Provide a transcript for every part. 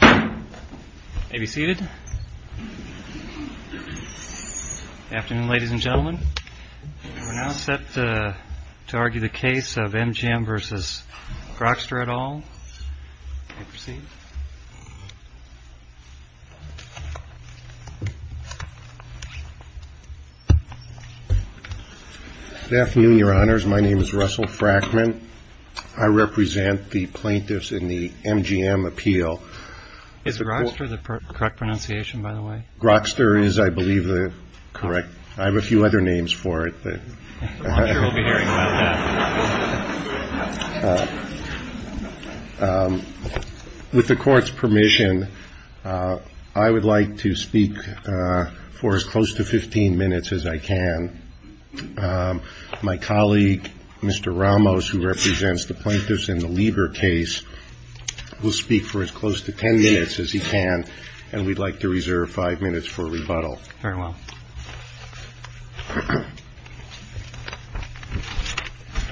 Good afternoon, your honors. My name is Russell Frackman. I represent the plaintiffs in the Lieber case. I would like to speak for as close to 15 minutes as I can. My colleague, Mr. Ramos, who represents the plaintiffs in the Lieber case, will speak for as close to 10 minutes as I can. And we would like to reserve five minutes for rebuttal.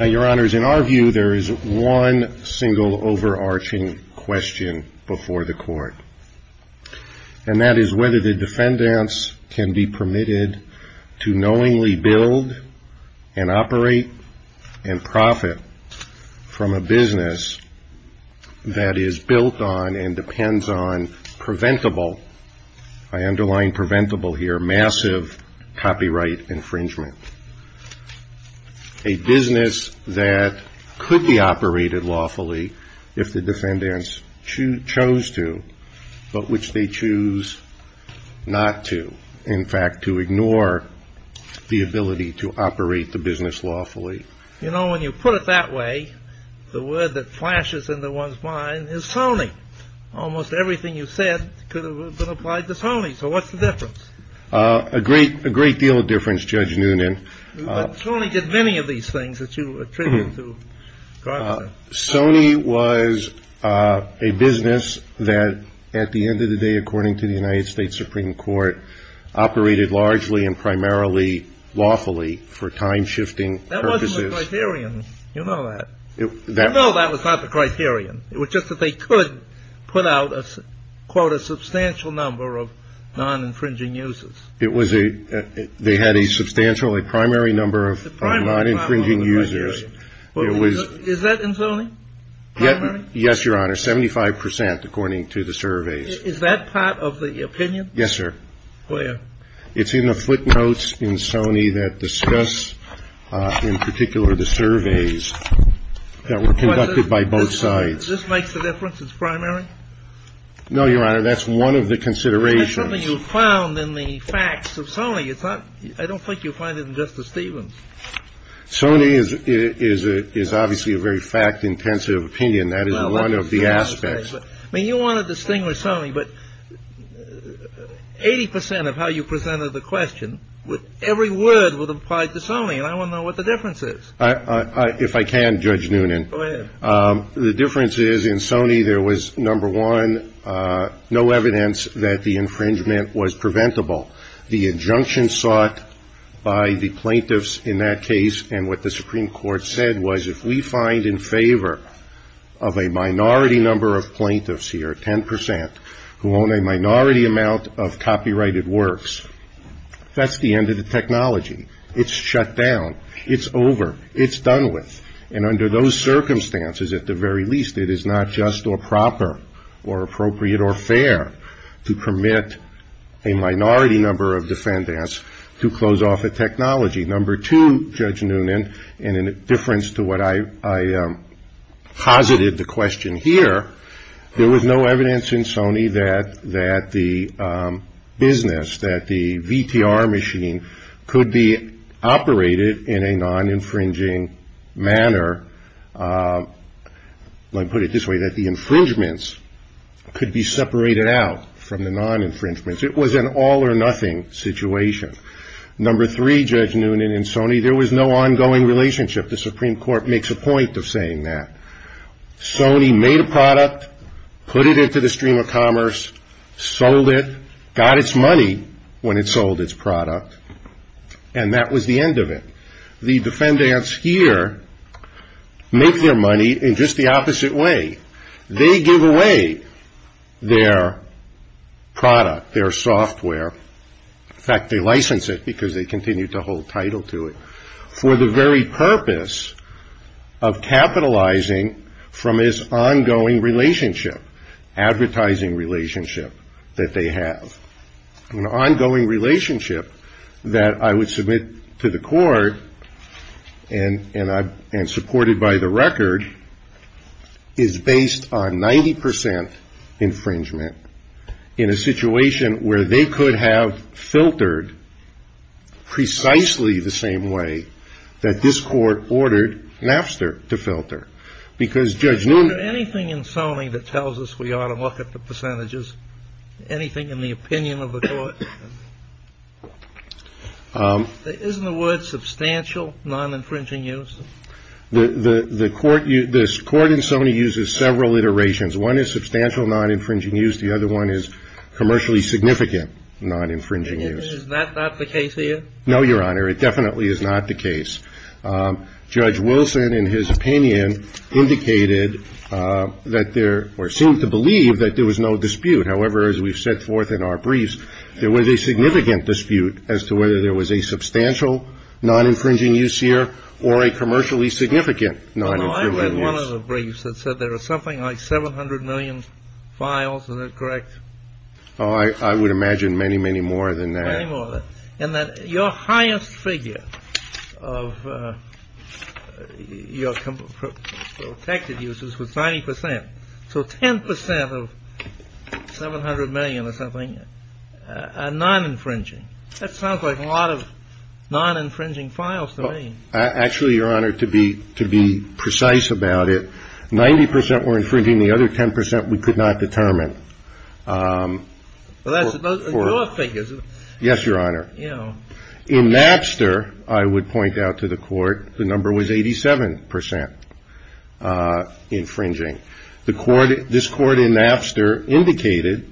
Your honors, in our view, there is one single overarching question before the court. And that is whether the defendants can be permitted to knowingly build and operate and profit from a business that is built on and depends on the preventable, I underline preventable here, massive copyright infringement. A business that could be operated lawfully if the defendants chose to, but which they choose not to. In fact, to ignore the ability to operate the business lawfully. You know, when you put it that way, the word that flashes into one's mind is Sony. Almost everything you said could have been applied to Sony. So what's the difference? A great deal of difference, Judge Noonan. But Sony did many of these things that you attribute to Grokster. Sony was a business that at the end of the day, according to the United States Supreme Court, operated largely and primarily lawfully for time-shifting purposes. That wasn't the criterion. You know that. No, that was not the criterion. It was just that they could put out, quote, a substantial number of non-infringing users. It was a, they had a substantial, a primary number of non-infringing users. Is that in Sony? Yes, your honor, 75 percent, according to the surveys. Is that part of the opinion? Yes, sir. Where? It's in the footnotes in Sony that discuss, in particular, the surveys that were conducted by both sides. This makes the difference? It's primary? No, your honor, that's one of the considerations. That's something you found in the facts of Sony. It's not, I don't think you'll find it in Justice Stevens. Sony is obviously a very fact-intensive opinion. That is one of the aspects. I mean, you want to distinguish Sony, but 80 percent of how you presented the question, every word would apply to Sony, and I want to know what the difference is. If I can, Judge Noonan. Go ahead. The difference is, in Sony, there was, number one, no evidence that the infringement was preventable. The injunction sought by the plaintiffs in that case and what the Supreme Court said was, if we find in favor of a minority number of plaintiffs here, 10 percent, who own a minority amount of copyrighted works, that's the end of the technology. It's shut down. It's over. It's done with. And under those circumstances, at the very least, it is not just or proper or appropriate or fair to permit a minority number of defendants to close off a technology. Number two, Judge Noonan, and in difference to what I posited the question here, there was no evidence in Sony that the business, that the VTR machine could be operated in a non-infringing manner. Let me put it this way, that the infringements could be separated out from the non-infringements. It was an all or nothing situation. Number three, Judge Noonan, in Sony, there was no ongoing relationship. The Supreme Court makes a point of saying that. Sony made a product, put it into the stream of commerce, sold it, got its money when it sold its product, and that was the end of it. The defendants here make their money in just the opposite way. They give away their product, their software. In fact, they license it because they continue to hold title to it for the very purpose of capitalizing from this ongoing relationship, advertising relationship that they have. An ongoing relationship that I would submit to the court and supported by the record is based on 90 percent infringement. In a situation where they could have filtered precisely the same way that this court ordered Napster to filter. Because Judge Noonan- Is there anything in Sony that tells us we ought to look at the percentages? Anything in the opinion of the court? Isn't the word substantial non-infringing use? The court in Sony uses several iterations. One is substantial non-infringing use. The other one is commercially significant non-infringing use. Is that not the case here? No, Your Honor. It definitely is not the case. Judge Wilson, in his opinion, indicated that there or seemed to believe that there was no dispute. However, as we've set forth in our briefs, there was a significant dispute as to whether there was a substantial non-infringing use here or a commercially significant non-infringing use. You had one of the briefs that said there was something like 700 million files. Is that correct? Oh, I would imagine many, many more than that. Many more than that. And that your highest figure of your protected uses was 90 percent. So 10 percent of 700 million or something are non-infringing. That sounds like a lot of non-infringing files to me. Actually, Your Honor, to be precise about it, 90 percent were infringing. The other 10 percent we could not determine. Well, that's your figures. Yes, Your Honor. In Napster, I would point out to the court, the number was 87 percent infringing. This court in Napster indicated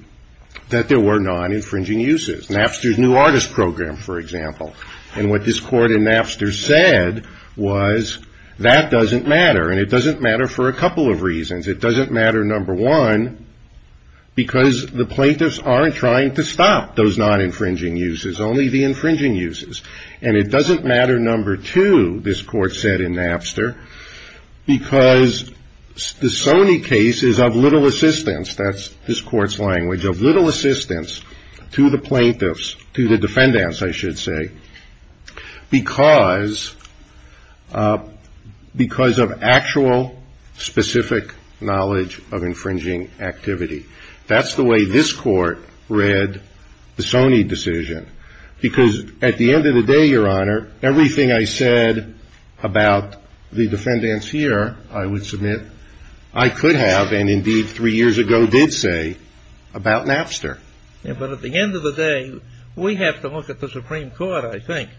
that there were non-infringing uses. Napster's new artist program, for example. And what this court in Napster said was that doesn't matter. And it doesn't matter for a couple of reasons. It doesn't matter, number one, because the plaintiffs aren't trying to stop those non-infringing uses, only the infringing uses. And it doesn't matter, number two, this court said in Napster, because the Sony case is of little assistance. That's this court's language, of little assistance to the plaintiffs, to the defendants, I should say, because of actual specific knowledge of infringing activity. That's the way this court read the Sony decision. Because at the end of the day, Your Honor, everything I said about the defendants here, I would submit, I could have, and indeed three years ago did say, about Napster. But at the end of the day, we have to look at the Supreme Court, I think.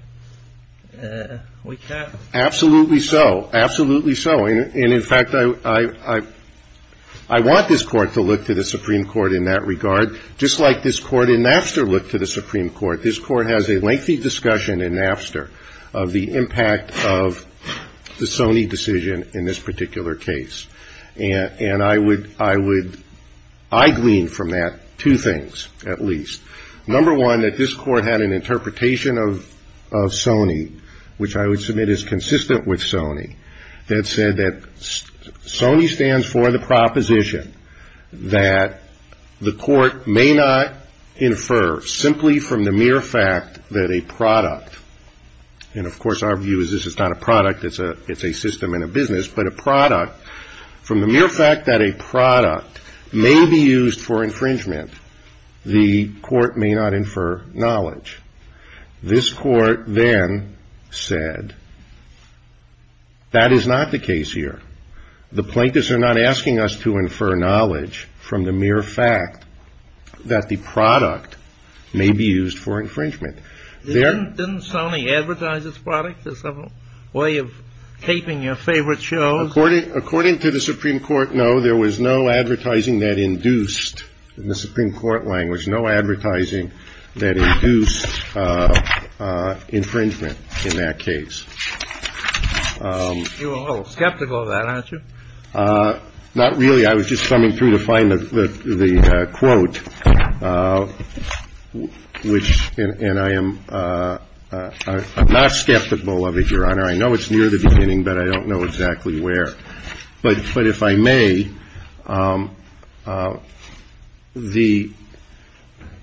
We can't. Absolutely so. Absolutely so. And in fact, I want this court to look to the Supreme Court in that regard, just like this court in Napster looked to the Supreme Court. This court has a lengthy discussion in Napster of the impact of the Sony decision in this particular case. And I would, I would, I glean from that two things, at least. Number one, that this court had an interpretation of Sony, which I would submit is consistent with Sony, that said that Sony stands for the proposition that the court may not infer simply from the mere fact that a product, and of course our view is this is not a product, it's a system in a business, but a product, from the mere fact that a product may be used for infringement, the court may not infer knowledge. This court then said, that is not the case here. The plaintiffs are not asking us to infer knowledge from the mere fact that the product may be used for infringement. Didn't Sony advertise its product as a way of taping your favorite shows? According to the Supreme Court, no. There was no advertising that induced, in the Supreme Court language, no advertising that induced infringement in that case. You're a little skeptical of that, aren't you? Not really. I was just coming through to find the quote, which, and I am not skeptical of it, Your Honor. I know it's near the beginning, but I don't know exactly where. But if I may, the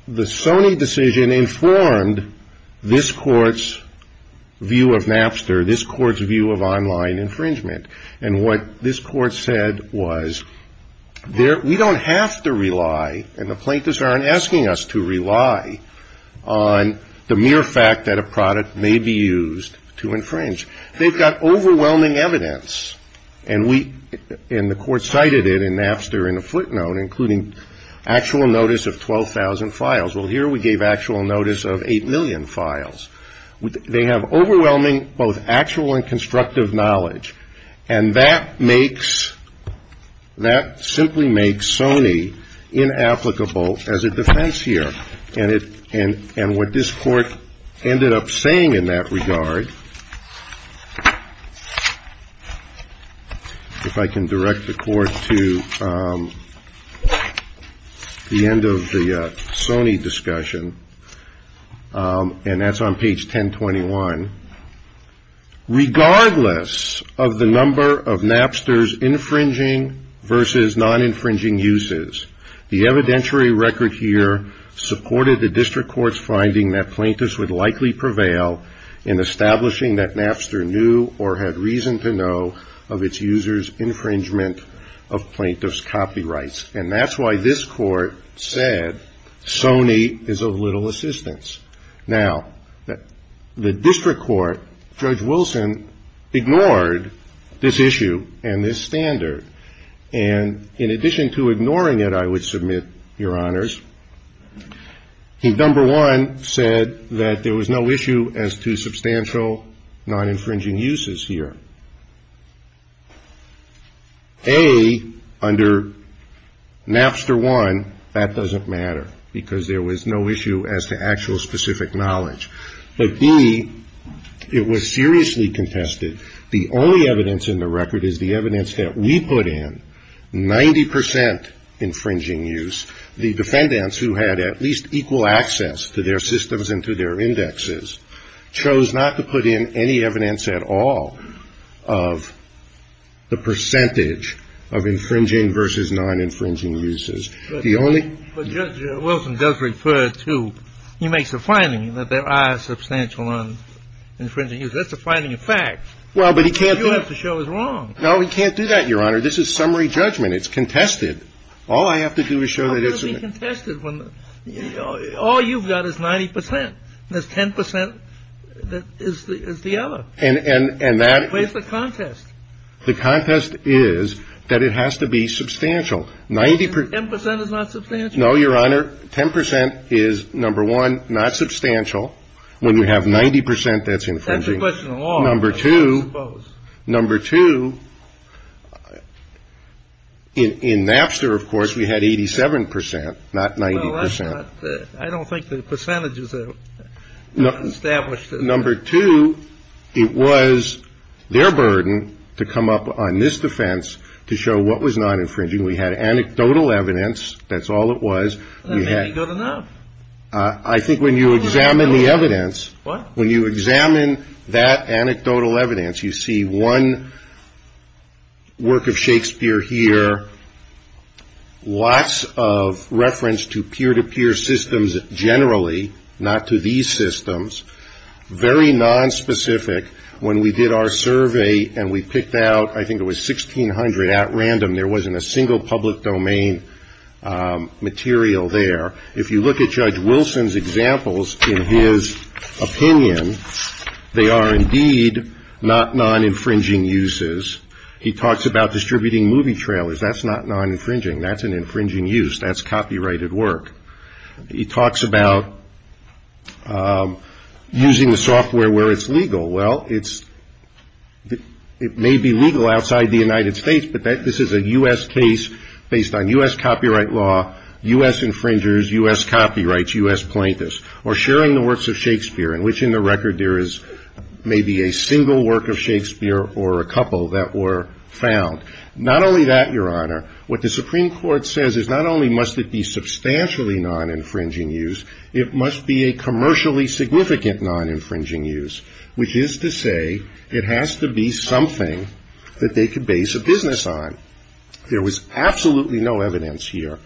Sony decision informed this court's view of Napster, this court's view of online infringement. And what this court said was, we don't have to rely, and the plaintiffs aren't asking us to rely, on the mere fact that a product may be used to infringe. They've got overwhelming evidence, and we, and the court cited it in Napster in a footnote, including actual notice of 12,000 files. Well, here we gave actual notice of 8 million files. They have overwhelming, both actual and constructive knowledge. And that makes, that simply makes Sony inapplicable as a defense here. And what this court ended up saying in that regard, if I can direct the court to the end of the Sony discussion, and that's on page 1021, regardless of the number of Napster's infringing versus non-infringing uses, the evidentiary record here supported the district court's finding that plaintiffs would likely prevail in establishing that Napster knew or had reason to know of its users' infringement of plaintiffs' copyrights. And that's why this court said Sony is of little assistance. Now, the district court, Judge Wilson, ignored this issue and this standard. And in addition to ignoring it, I would submit, Your Honors, he, number one, said that there was no issue as to substantial non-infringing uses here. A, under Napster 1, that doesn't matter, because there was no issue as to actual specific knowledge. But B, it was seriously contested. The only evidence in the record is the evidence that we put in, 90 percent infringing use. The defendants, who had at least equal access to their systems and to their indexes, chose not to put in any evidence at all of the percentage of infringing versus non-infringing uses. The only ---- But Judge Wilson does refer to, he makes a finding that there are substantial non-infringing uses. That's a finding of fact. Well, but he can't do it. You have to show it's wrong. No, he can't do that, Your Honor. This is summary judgment. It's contested. All I have to do is show that it's ---- How can it be contested when all you've got is 90 percent, and there's 10 percent that is the other? And that ---- Where's the contest? The contest is that it has to be substantial. 90 percent ---- 10 percent is not substantial? No, Your Honor. 10 percent is, number one, not substantial, when you have 90 percent that's infringing. That's a question of law. Number two, number two, in Napster, of course, we had 87 percent, not 90 percent. I don't think the percentages are established. Number two, it was their burden to come up on this defense to show what was non-infringing. We had anecdotal evidence. That's all it was. That may be good enough. I think when you examine the evidence ---- What? When you examine that anecdotal evidence, you see one work of Shakespeare here, lots of reference to peer-to-peer systems generally, not to these systems, very nonspecific. When we did our survey and we picked out, I think it was 1,600 at random, there wasn't a single public domain material there. If you look at Judge Wilson's examples, in his opinion, they are indeed not non-infringing uses. He talks about distributing movie trailers. That's not non-infringing. That's an infringing use. That's copyrighted work. He talks about using the software where it's legal. Well, it may be legal outside the United States, but this is a U.S. case based on U.S. copyright law, U.S. infringers, U.S. copyrights, U.S. plaintiffs, or sharing the works of Shakespeare, in which, in the record, there is maybe a single work of Shakespeare or a couple that were found. Not only that, Your Honor, what the Supreme Court says is not only must it be substantially non-infringing use, it must be a commercially significant non-infringing use, which is to say it has to be something that they could base a business on. There was absolutely no evidence here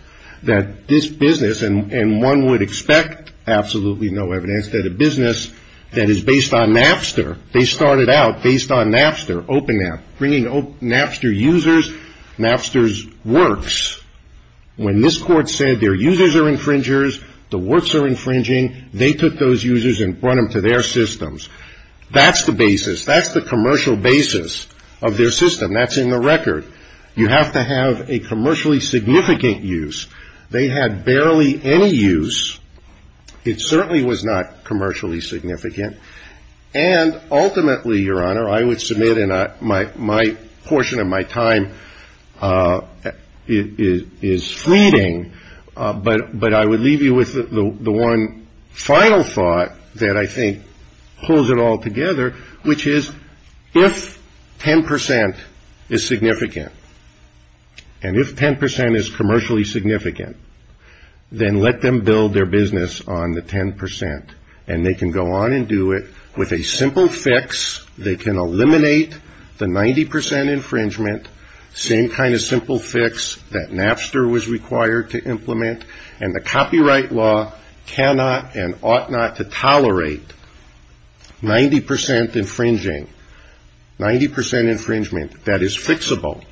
that this business, and one would expect absolutely no evidence, that a business that is based on Napster, they started out based on Napster, OpenNap, bringing Napster users, Napster's works. When this Court said their users are infringers, the works are infringing, they took those users and brought them to their systems. That's the basis. That's the commercial basis of their system. That's in the record. You have to have a commercially significant use. They had barely any use. It certainly was not commercially significant. And ultimately, Your Honor, I would submit, and my portion of my time is fleeting, but I would leave you with the one final thought that I think pulls it all together, which is if 10 percent is significant, and if 10 percent is commercially significant, then let them build their business on the 10 percent, and they can go on and do it with a simple fix. They can eliminate the 90 percent infringement, same kind of simple fix that Napster was required to implement, and the copyright law cannot and ought not to tolerate 90 percent infringing, 90 percent infringement, that is fixable,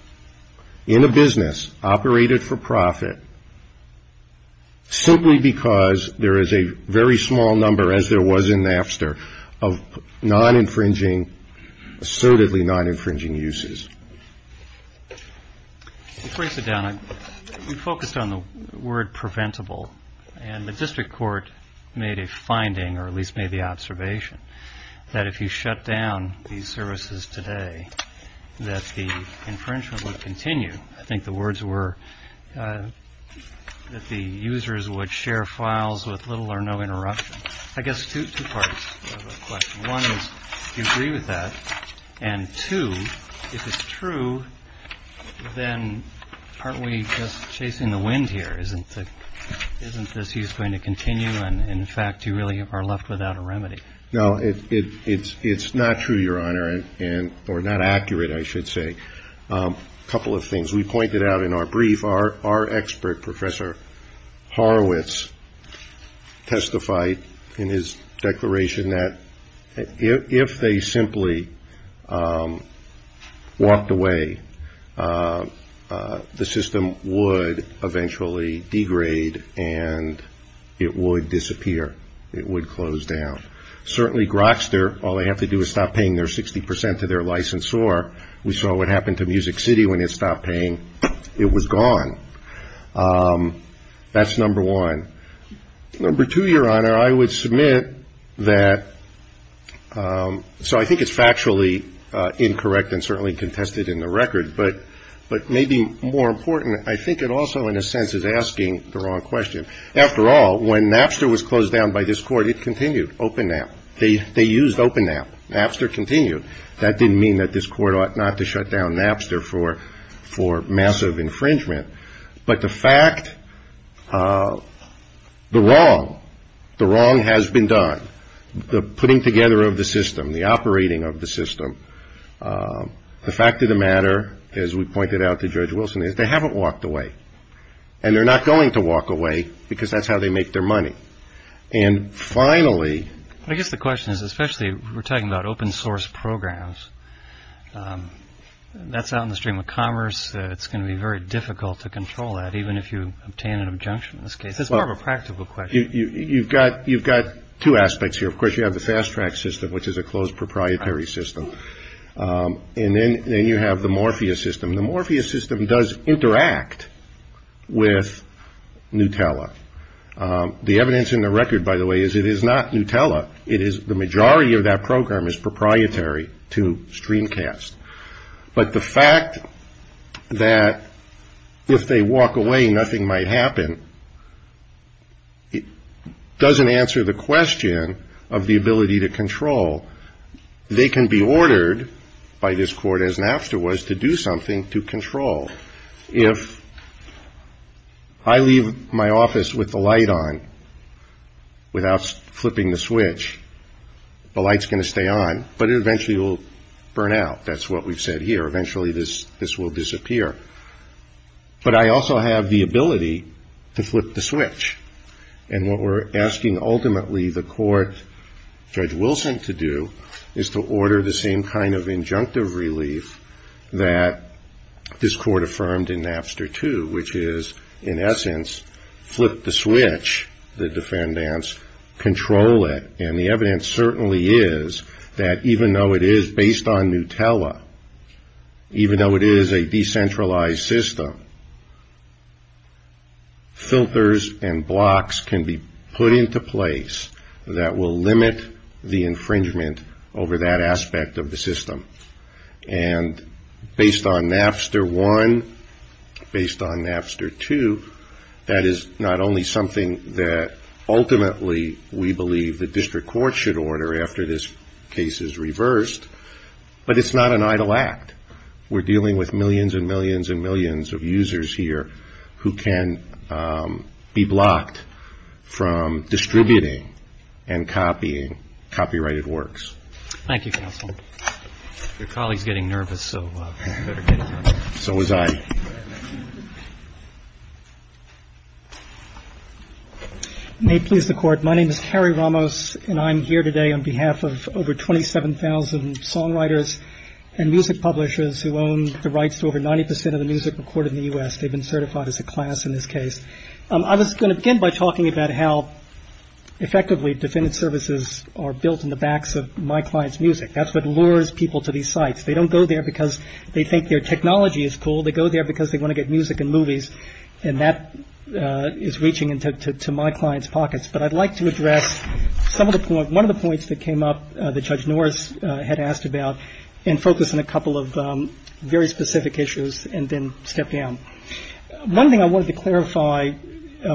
in a business, operated for profit, simply because there is a very small number, as there was in Napster, of non-infringing, assertedly non-infringing uses. Let me break it down. We focused on the word preventable, and the District Court made a finding, or at least made the observation, that if you shut down these services today, that the infringement would continue. I think the words were that the users would share files with little or no interruption. I guess two parts of the question. One is, do you agree with that? And two, if it's true, then aren't we just chasing the wind here? Isn't this use going to continue, and, in fact, you really are left without a remedy? No, it's not true, Your Honor, or not accurate, I should say. A couple of things. We pointed out in our brief, our expert, Professor Horowitz, testified in his declaration that if they simply walked away, the system would eventually degrade and it would disappear. It would close down. Certainly Grokster, all they have to do is stop paying their 60% to their licensor. We saw what happened to Music City when it stopped paying. It was gone. That's number one. Number two, Your Honor, I would submit that, so I think it's factually incorrect and certainly contested in the record, but maybe more important, I think it also, in a sense, is asking the wrong question. After all, when Napster was closed down by this court, it continued, open NAP. They used open NAP. Napster continued. That didn't mean that this court ought not to shut down Napster for massive infringement, but the fact, the wrong, the wrong has been done, the putting together of the system, the operating of the system, the fact of the matter, as we pointed out to Judge Wilson, is they haven't walked away. And they're not going to walk away because that's how they make their money. And finally. I guess the question is, especially if we're talking about open source programs, that's out in the stream of commerce. It's going to be very difficult to control that, even if you obtain an injunction in this case. It's more of a practical question. You've got two aspects here. Of course, you have the fast track system, which is a closed proprietary system. And then you have the Morpheus system. The Morpheus system does interact with Nutella. The evidence in the record, by the way, is it is not Nutella. It is the majority of that program is proprietary to Streamcast. But the fact that if they walk away, nothing might happen, doesn't answer the question of the ability to control. They can be ordered by this court, as Napster was, to do something to control. If I leave my office with the light on without flipping the switch, the light's going to stay on, but it eventually will burn out. That's what we've said here. Eventually this will disappear. But I also have the ability to flip the switch. And what we're asking ultimately the court, Judge Wilson, to do is to order the same kind of injunctive relief that this court affirmed in Napster 2, which is, in essence, flip the switch, the defendants, control it. And the evidence certainly is that even though it is based on Nutella, even though it is a decentralized system, filters and blocks can be put into place that will limit the infringement over that aspect of the system. And based on Napster 1, based on Napster 2, that is not only something that ultimately we believe the district court should order after this case is reversed, but it's not an idle act. We're dealing with millions and millions and millions of users here who can be blocked from distributing and copying copyrighted works. Thank you, counsel. Your colleague's getting nervous, so you better get him. So was I. May it please the court, my name is Harry Ramos, and I'm here today on behalf of over 27,000 songwriters and music publishers who own the rights to over 90 percent of the music recorded in the U.S. They've been certified as a class in this case. I was going to begin by talking about how effectively defendant services are built in the backs of my client's music. That's what lures people to these sites. They don't go there because they think their technology is cool. They go there because they want to get music and movies. And that is reaching into my client's pockets. But I'd like to address some of the points, one of the points that came up that Judge Norris had asked about, and focus on a couple of very specific issues and then step down. One thing I wanted to clarify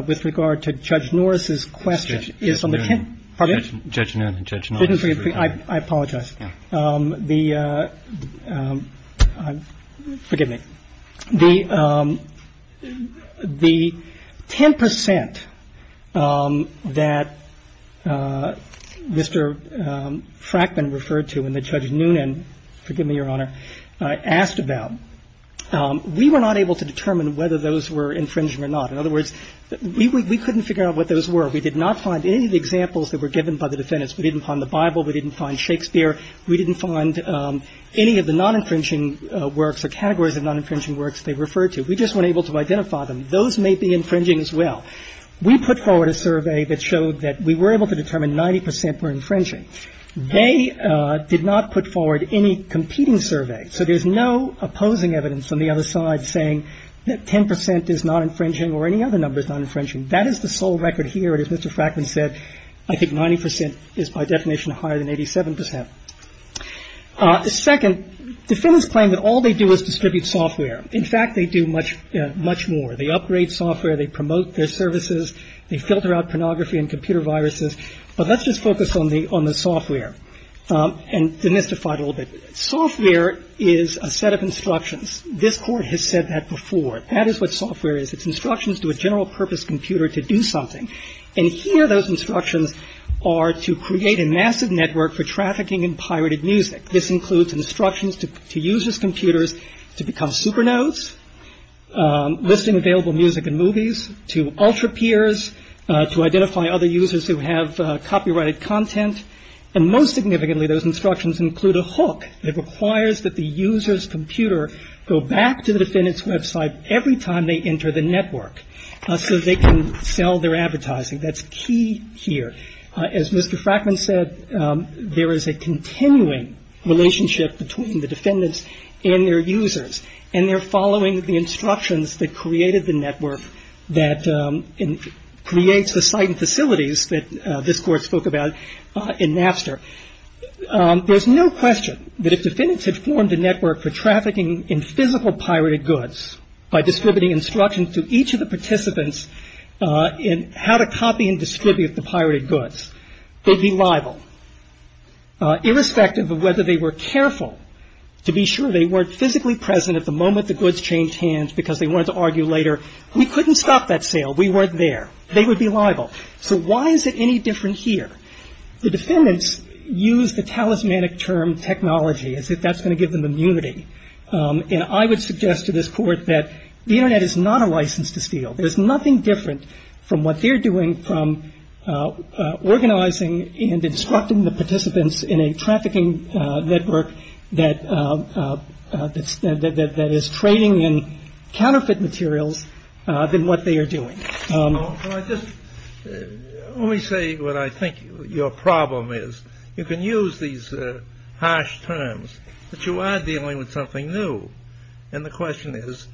with regard to Judge Norris's question is on the 10th. Pardon? Judge Noonan and Judge Norris. I apologize. The – forgive me. The 10 percent that Mr. Frackman referred to and that Judge Noonan – forgive me, Your Honor – asked about, we were not able to determine whether those were infringing or not. In other words, we couldn't figure out what those were. We did not find any of the examples that were given by the defendants. We didn't find the Bible. We didn't find Shakespeare. We didn't find any of the non-infringing works or categories of non-infringing works they referred to. We just weren't able to identify them. Those may be infringing as well. We put forward a survey that showed that we were able to determine 90 percent were infringing. They did not put forward any competing survey. So there's no opposing evidence on the other side saying that 10 percent is not infringing or any other number is not infringing. That is the sole record here. And as Mr. Frackman said, I think 90 percent is by definition higher than 87 percent. Second, defendants claim that all they do is distribute software. In fact, they do much more. They upgrade software. They promote their services. They filter out pornography and computer viruses. But let's just focus on the software and demystify it a little bit. Software is a set of instructions. This Court has said that before. That is what software is. It's instructions to a general purpose computer to do something. And here those instructions are to create a massive network for trafficking in pirated music. This includes instructions to users' computers to become supernotes, listing available music and movies, and most significantly, those instructions include a hook that requires that the user's computer go back to the defendant's website every time they enter the network so they can sell their advertising. That's key here. As Mr. Frackman said, there is a continuing relationship between the defendants and their users, and they're following the instructions that created the network that creates the site and facilities that this Court spoke about in Napster. There's no question that if defendants had formed a network for trafficking in physical pirated goods by distributing instructions to each of the participants in how to copy and distribute the pirated goods, they'd be liable. Irrespective of whether they were careful to be sure they weren't physically present at the moment the goods changed hands because they wanted to argue later, we couldn't stop that sale. We weren't there. They would be liable. So why is it any different here? The defendants use the talismanic term technology as if that's going to give them immunity. And I would suggest to this Court that the Internet is not a license to steal. There's nothing different from what they're doing from organizing and instructing the participants in a trafficking network that is trading in counterfeit materials than what they are doing. Let me say what I think your problem is. You can use these harsh terms, but you are dealing with something new. And the question is,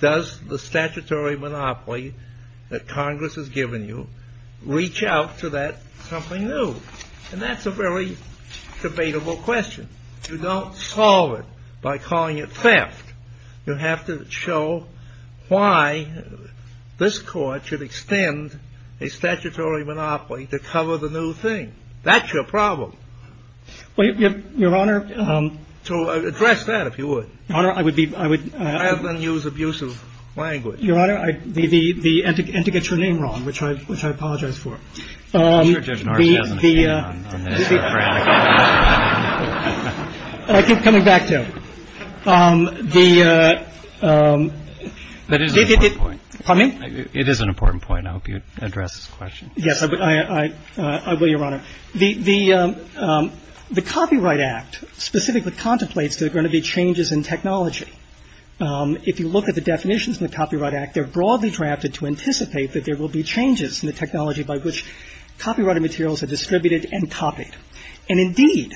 does the statutory monopoly that Congress has given you reach out to that something new? And that's a very debatable question. You don't solve it by calling it theft. You have to show why this Court should extend a statutory monopoly to cover the new thing. That's your problem. Well, Your Honor — To address that, if you would. Your Honor, I would be — Rather than use abusive language. Your Honor, and to get your name wrong, which I apologize for. I'm sure Judge Norris has an opinion on this. I keep coming back to it. The — That is an important point. Pardon me? It is an important point. I hope you address this question. Yes, I will, Your Honor. The Copyright Act specifically contemplates there are going to be changes in technology. If you look at the definitions in the Copyright Act, they're broadly drafted to anticipate that there will be changes in the technology by which copyrighted materials are distributed and copied. And, indeed,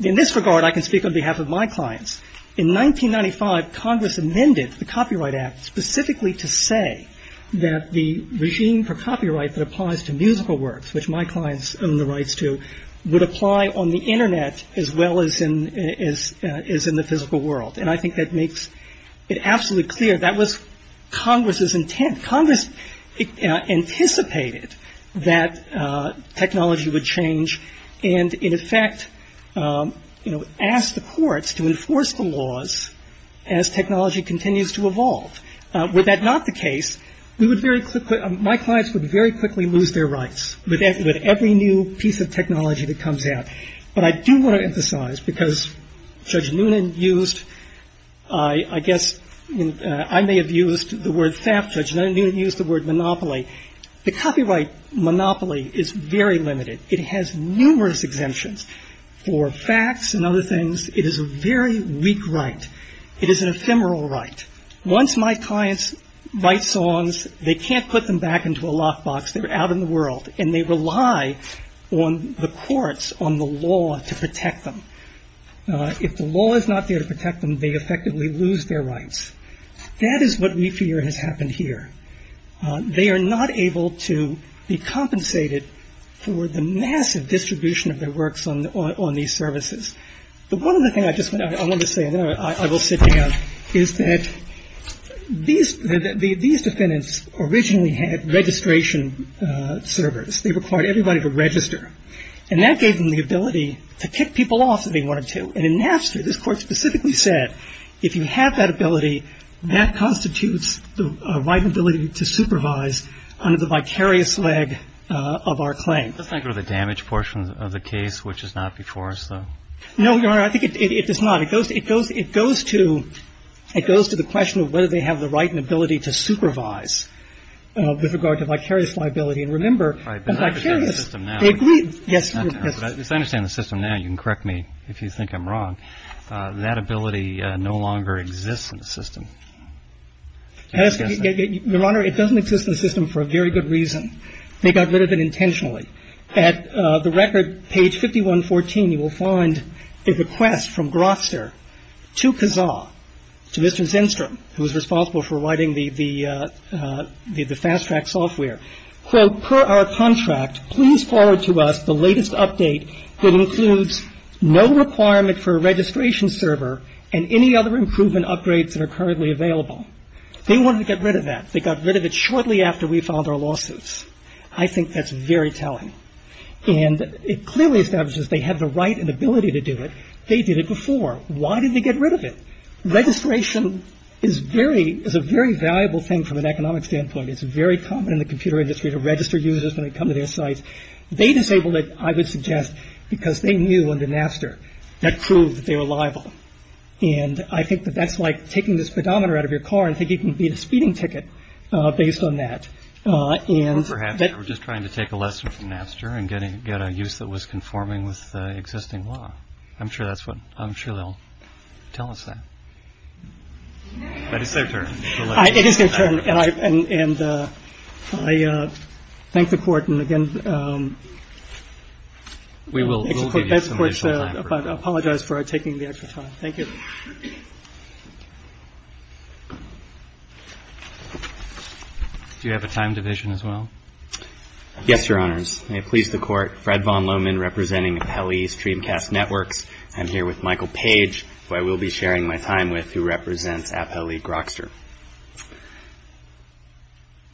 in this regard, I can speak on behalf of my clients. In 1995, Congress amended the Copyright Act specifically to say that the regime for copyright that applies to musical works, which my clients own the rights to, would apply on the Internet as well as in the physical world. And I think that makes it absolutely clear that was Congress's intent. Congress anticipated that technology would change and, in effect, asked the courts to enforce the laws as technology continues to evolve. Were that not the case, we would very quickly — my clients would very quickly lose their rights with every new piece of technology that comes out. But I do want to emphasize, because Judge Noonan used — I guess I may have used the word fabtrudge, and I didn't use the word monopoly. The copyright monopoly is very limited. It has numerous exemptions for facts and other things. It is a very weak right. It is an ephemeral right. Once my clients write songs, they can't put them back into a lockbox. They're out in the world. And they rely on the courts, on the law, to protect them. If the law is not there to protect them, they effectively lose their rights. That is what we fear has happened here. They are not able to be compensated for the massive distribution of their works on these services. But one other thing I wanted to say, and then I will sit down, is that these defendants originally had registration servers. They required everybody to register. And that gave them the ability to kick people off if they wanted to. And in Napster, this Court specifically said, if you have that ability, that constitutes the right and ability to supervise under the vicarious leg of our claim. Let's not go to the damage portion of the case, which is not before us, though. No, Your Honor, I think it is not. It goes to the question of whether they have the right and ability to supervise with regard to vicarious liability. And remember, vicarious. All right, but I understand the system now. They agreed. Yes. I understand the system now. You can correct me if you think I'm wrong. That ability no longer exists in the system. Your Honor, it doesn't exist in the system for a very good reason. They got rid of it intentionally. At the record, page 5114, you will find a request from Grofster to Kazar, to Mr. Zennstrom, who is responsible for writing the fast track software. Quote, per our contract, please forward to us the latest update that includes no requirement for a registration server and any other improvement upgrades that are currently available. They wanted to get rid of that. They got rid of it shortly after we filed our lawsuits. I think that's very telling. And it clearly establishes they have the right and ability to do it. They did it before. Why did they get rid of it? Registration is a very valuable thing from an economic standpoint. It's very common in the computer industry to register users when they come to their site. They disabled it, I would suggest, because they knew under Napster that proved that they were liable. And I think that that's like taking this pedometer out of your car and thinking you can beat a speeding ticket based on that. Or perhaps they were just trying to take a lesson from Napster and get a use that was conforming with existing law. I'm sure that's what I'm sure they'll tell us that. But it's their turn. It is their turn. And I thank the court. And again, we will apologize for taking the extra time. Thank you. Do you have a time division as well? Yes, Your Honors. May it please the court. Fred Von Lohman representing Apelli Streamcast Networks. I'm here with Michael Page, who I will be sharing my time with, who represents Apelli Grokster.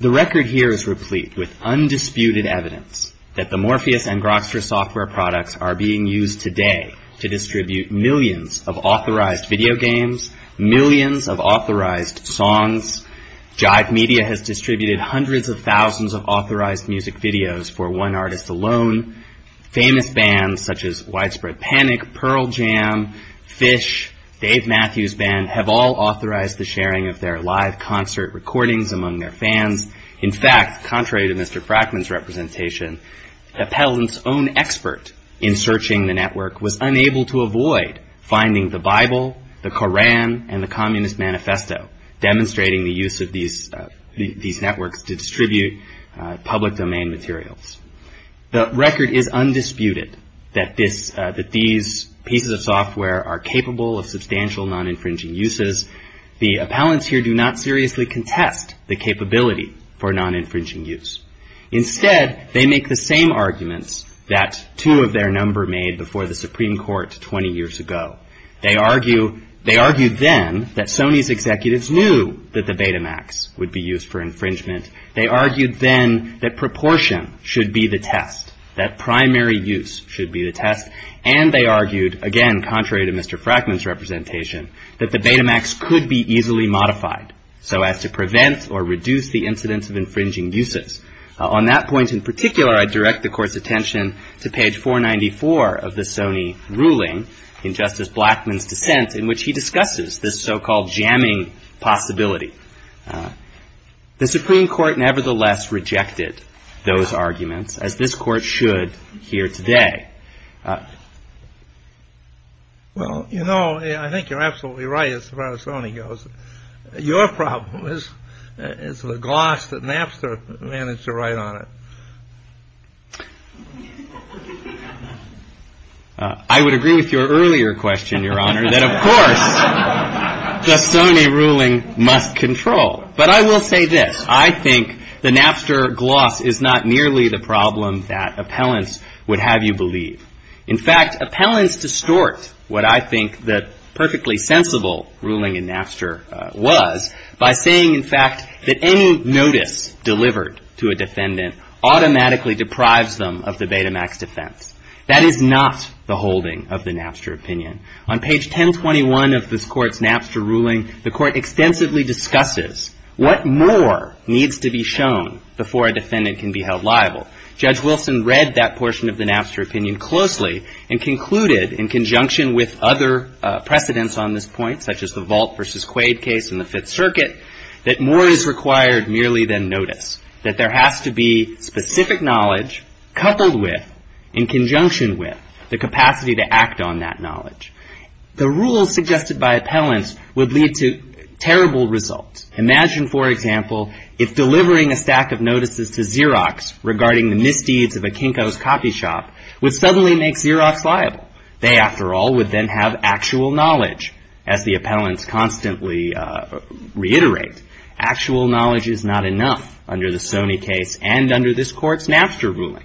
The record here is replete with undisputed evidence that the Morpheus and Grokster software products are being used today to distribute millions of authorized video games, millions of authorized songs. Jive Media has distributed hundreds of thousands of authorized music videos for one artist alone. Famous bands such as Widespread Panic, Pearl Jam, Phish, Dave Matthews Band, have all authorized the sharing of their live concert recordings among their fans. In fact, contrary to Mr. Frackman's representation, Appellant's own expert in searching the network was unable to avoid finding the Bible, the Koran, and the Communist Manifesto demonstrating the use of these networks to distribute public domain materials. The record is undisputed that these pieces of software are capable of substantial non-infringing uses. The Appellants here do not seriously contest the capability for non-infringing use. Instead, they make the same arguments that two of their number made before the Supreme Court 20 years ago. They argue then that Sony's executives knew that the Betamax would be used for infringement. They argued then that proportion should be the test, that primary use should be the test. And they argued, again, contrary to Mr. Frackman's representation, that the Betamax could be easily modified so as to prevent or reduce the incidence of infringing uses. On that point in particular, I direct the Court's attention to page 494 of the Sony ruling in Justice Blackmun's dissent in which he discusses this so-called jamming possibility. The Supreme Court nevertheless rejected those arguments, as this Court should here today. Well, you know, I think you're absolutely right as far as Sony goes. Your problem is the gloss that Napster managed to write on it. I would agree with your earlier question, Your Honor, that, of course, the Sony ruling must control. But I will say this. I think the Napster gloss is not nearly the problem that Appellants would have you believe. In fact, Appellants distort what I think the perfectly sensible ruling in Napster was by saying, in fact, that any notice delivered to a defendant automatically deprives them of the Betamax defense. That is not the holding of the Napster opinion. On page 1021 of this Court's Napster ruling, the Court extensively discusses what more needs to be shown before a defendant can be held liable. Judge Wilson read that portion of the Napster opinion closely and concluded, in conjunction with other precedents on this point, such as the Vault v. Quaid case in the Fifth Circuit, that more is required merely than notice, that there has to be specific knowledge coupled with, in conjunction with, the capacity to act on that knowledge. The rules suggested by Appellants would lead to terrible results. Imagine, for example, if delivering a stack of notices to Xerox regarding the misdeeds of a Kinko's coffee shop would suddenly make Xerox liable. They, after all, would then have actual knowledge. As the Appellants constantly reiterate, actual knowledge is not enough under the Sony case and under this Court's Napster ruling.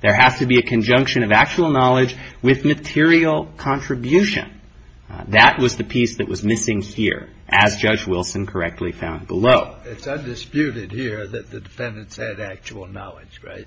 There has to be a conjunction of actual knowledge with material contribution. That was the piece that was missing here, as Judge Wilson correctly found below. It's undisputed here that the defendants had actual knowledge, right?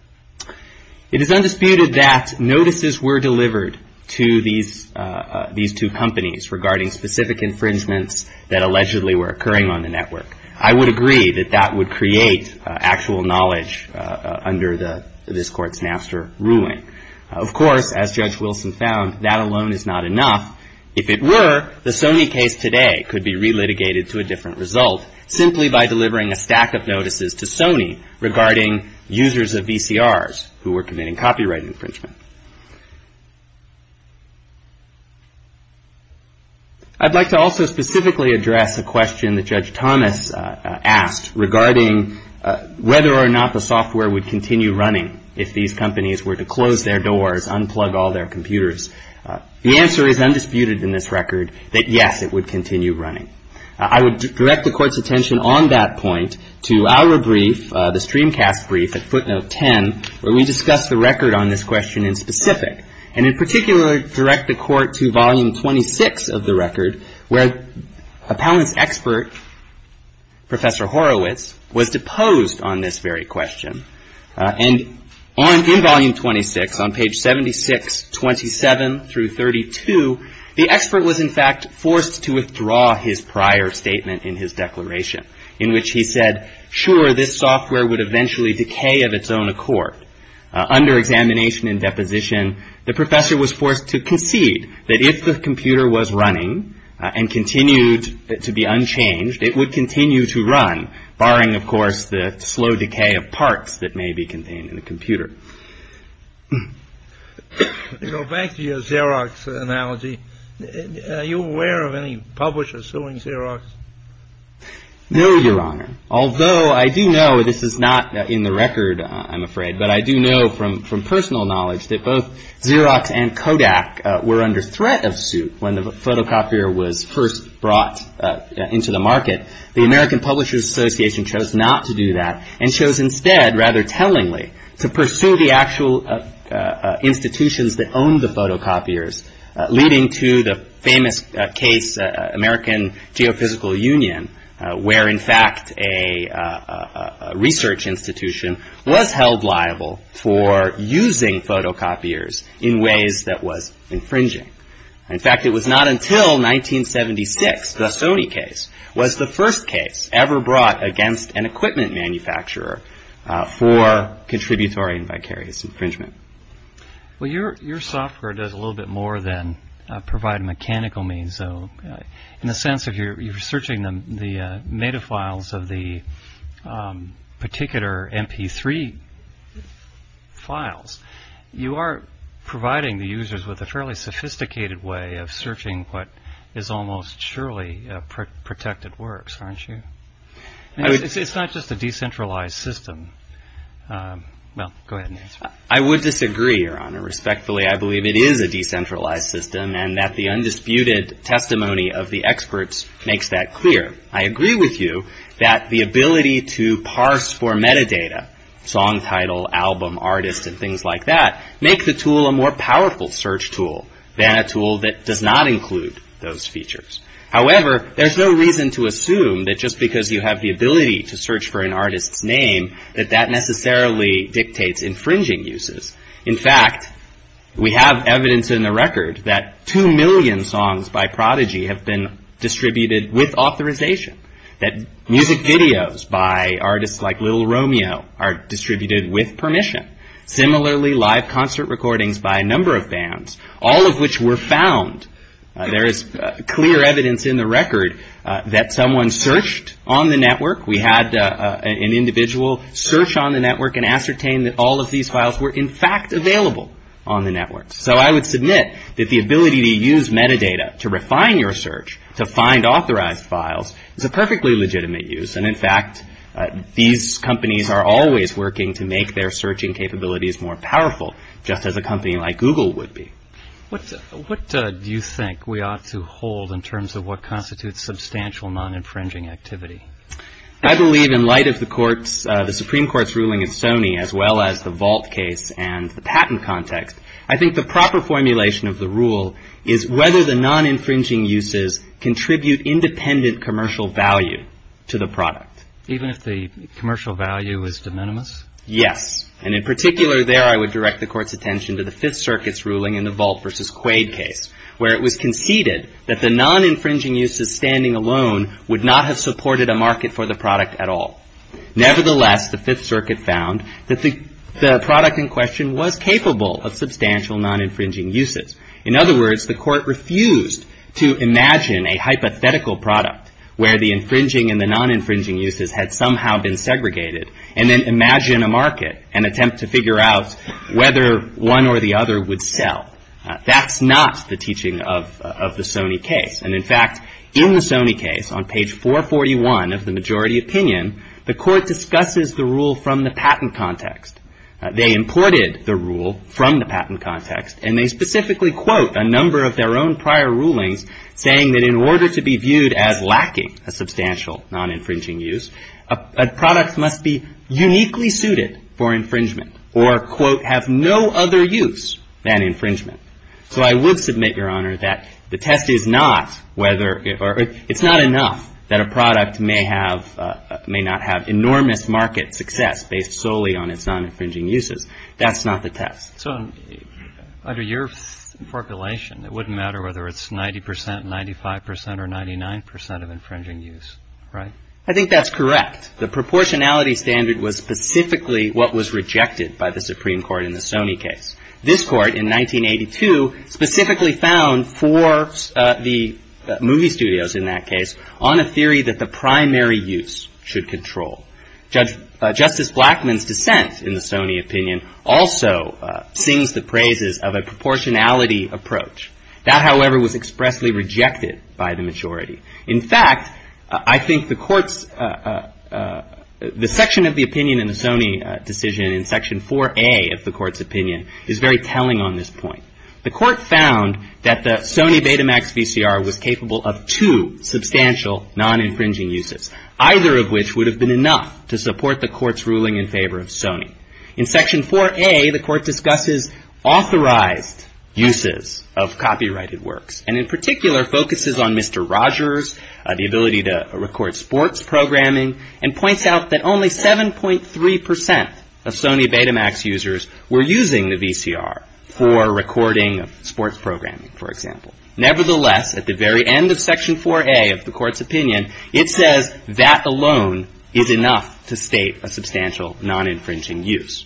It is undisputed that notices were delivered to these two companies regarding specific infringements that allegedly were occurring on the network. I would agree that that would create actual knowledge under this Court's Napster ruling. Of course, as Judge Wilson found, that alone is not enough. If it were, the Sony case today could be relitigated to a different result simply by delivering a stack of notices to Sony regarding users of VCRs who were committing copyright infringement. I'd like to also specifically address a question that Judge Thomas asked regarding whether or not the software would continue running if these companies were to close their doors, unplug all their computers. The answer is undisputed in this record that, yes, it would continue running. I would direct the Court's attention on that point to our brief, the streamcast brief at footnote 10, where we discuss the record on this question in specific, and in particular, direct the Court to volume 26 of the record where appellant's expert, Professor Horowitz, was deposed on this very question. And in volume 26, on page 76, 27 through 32, the expert was, in fact, forced to withdraw his prior statement in his declaration, in which he said, sure, this software would eventually decay of its own accord. Under examination and deposition, the professor was forced to concede that if the computer was running and continued to be unchanged, it would continue to run, barring, of course, the slow decay of parts that may be contained in the computer. Go back to your Xerox analogy. Are you aware of any publishers suing Xerox? No, Your Honor, although I do know this is not in the record, I'm afraid, but I do know from personal knowledge that both Xerox and Kodak were under threat of suit when the photocopier was first brought into the market. The American Publishers Association chose not to do that and chose instead, rather tellingly, to pursue the actual institutions that owned the photocopiers, leading to the famous case, American Geophysical Union, where, in fact, a research institution was held liable for using photocopiers in ways that was infringing. In fact, it was not until 1976, the Sony case, was the first case ever brought against an equipment manufacturer for contributory and vicarious infringement. Well, your software does a little bit more than provide mechanical means, though. In the sense of you're searching the metafiles of the particular MP3 files, you are providing the users with a fairly sophisticated way of searching what is almost surely protected works, aren't you? It's not just a decentralized system. Well, go ahead and answer. I would disagree, Your Honor. Respectfully, I believe it is a decentralized system and that the undisputed testimony of the experts makes that clear. I agree with you that the ability to parse for metadata, song title, album, artist, and things like that, make the tool a more powerful search tool than a tool that does not include those features. However, there's no reason to assume that just because you have the ability to search for an artist's name, that that necessarily dictates infringing uses. In fact, we have evidence in the record that two million songs by Prodigy have been distributed with authorization, that music videos by artists like Lil' Romeo are distributed with permission. Similarly, live concert recordings by a number of bands, all of which were found. There is clear evidence in the record that someone searched on the network. We had an individual search on the network and ascertain that all of these files were, in fact, available on the network. So I would submit that the ability to use metadata to refine your search, to find authorized files, is a perfectly legitimate use. And in fact, these companies are always working to make their searching capabilities more powerful, just as a company like Google would be. What do you think we ought to hold in terms of what constitutes substantial non-infringing activity? I believe in light of the Supreme Court's ruling in Sony, as well as the vault case and the patent context, I think the proper formulation of the rule is whether the non-infringing uses contribute independent commercial value to the product. Even if the commercial value is de minimis? Yes. And in particular, there I would direct the Court's attention to the Fifth Circuit's ruling in the vault versus quaid case, where it was conceded that the non-infringing uses standing alone would not have supported a market for the product at all. Nevertheless, the Fifth Circuit found that the product in question was capable of substantial non-infringing uses. In other words, the Court refused to imagine a hypothetical product, where the infringing and the non-infringing uses had somehow been segregated, and then imagine a market and attempt to figure out whether one or the other would sell. That's not the teaching of the Sony case. And in fact, in the Sony case, on page 441 of the majority opinion, the Court discusses the rule from the patent context. They imported the rule from the patent context, and they specifically quote a number of their own prior rulings saying that in order to be viewed as lacking a substantial non-infringing use, a product must be uniquely suited for infringement or, quote, have no other use than infringement. So I would submit, Your Honor, that the test is not whether or – it's not enough that a product may have – may not have enormous market success based solely on its non-infringing uses. That's not the test. So under your formulation, it wouldn't matter whether it's 90 percent, 95 percent or 99 percent of infringing use, right? I think that's correct. The proportionality standard was specifically what was rejected by the Supreme Court in the Sony case. This Court in 1982 specifically found for the movie studios in that case on a theory that the primary use should control. Justice Blackmun's dissent in the Sony opinion also sings the praises of a proportionality approach. That, however, was expressly rejected by the majority. In fact, I think the Court's – the section of the opinion in the Sony decision in Section 4A of the Court's opinion is very telling on this point. The Court found that the Sony Betamax VCR was capable of two substantial non-infringing uses, either of which would have been enough to support the Court's ruling in favor of Sony. In Section 4A, the Court discusses authorized uses of copyrighted works and in particular focuses on Mr. Rogers, the ability to record sports programming, and points out that only 7.3 percent of Sony Betamax users were using the VCR for recording sports programming, for example. Nevertheless, at the very end of Section 4A of the Court's opinion, it says that alone is enough to state a substantial non-infringing use.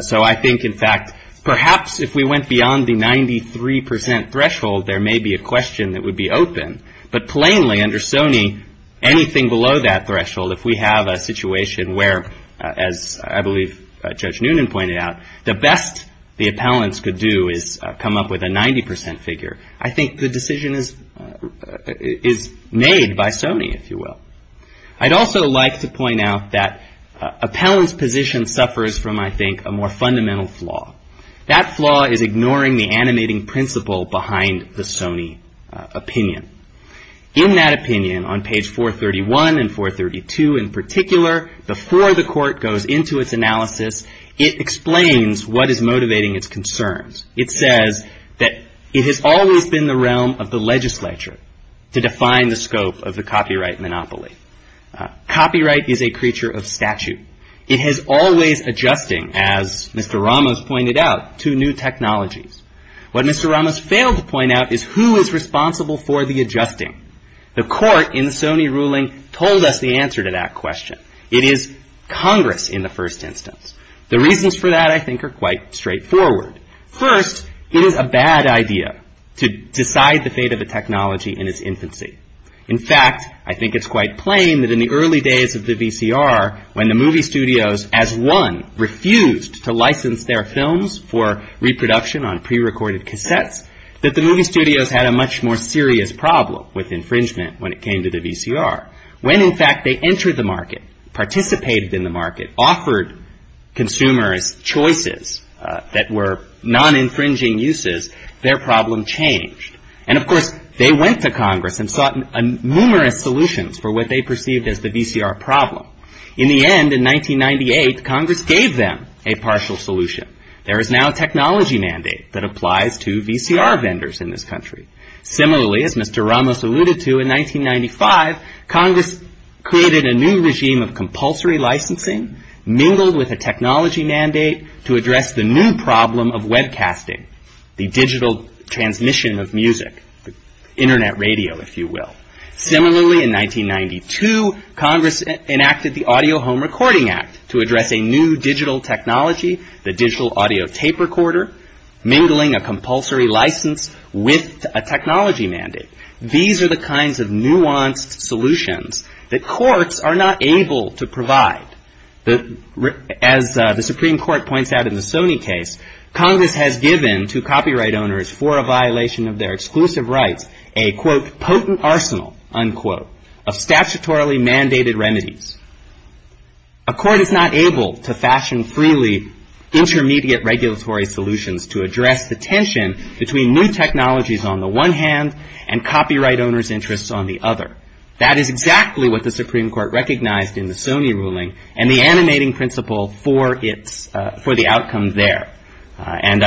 So I think, in fact, perhaps if we went beyond the 93 percent threshold, there may be a question that would be open. But plainly, under Sony, anything below that threshold, if we have a situation where, as I believe Judge Noonan pointed out, the best the appellants could do is come up with a 90 percent figure, I think the decision is made by Sony, if you will. I'd also like to point out that appellants' position suffers from, I think, a more fundamental flaw. That flaw is ignoring the animating principle behind the Sony opinion. In that opinion, on page 431 and 432 in particular, before the Court goes into its analysis, it explains what is motivating its concerns. It says that it has always been the realm of the legislature to define the scope of the copyright monopoly. Copyright is a creature of statute. It has always adjusting, as Mr. Ramos pointed out, to new technologies. What Mr. Ramos failed to point out is who is responsible for the adjusting. The Court, in the Sony ruling, told us the answer to that question. It is Congress, in the first instance. The reasons for that, I think, are quite straightforward. First, it is a bad idea to decide the fate of a technology in its infancy. In fact, I think it's quite plain that in the early days of the VCR, when the movie studios, as one, refused to license their films for reproduction on prerecorded cassettes, that the movie studios had a much more serious problem with infringement when it came to the VCR. When, in fact, they entered the market, participated in the market, offered consumers choices that were non-infringing uses, their problem changed. And, of course, they went to Congress and sought numerous solutions for what they perceived as the VCR problem. In the end, in 1998, Congress gave them a partial solution. There is now a technology mandate that applies to VCR vendors in this country. Similarly, as Mr. Ramos alluded to, in 1995, Congress created a new regime of compulsory licensing, mingled with a technology mandate to address the new problem of webcasting, the digital transmission of music, internet radio, if you will. Similarly, in 1992, Congress enacted the Audio Home Recording Act to address a new digital technology, the digital audio tape recorder, mingling a compulsory license with a technology mandate. These are the kinds of nuanced solutions that courts are not able to provide. As the Supreme Court points out in the Sony case, Congress has given to copyright owners, for a violation of their exclusive rights, a, quote, potent arsenal, unquote, of statutorily mandated remedies. A court is not able to fashion freely intermediate regulatory solutions to address the tension between new technologies on the one hand and copyright owners' interests on the other. That is exactly what the Supreme Court recognized in the Sony ruling and the animating principle for the outcome there. And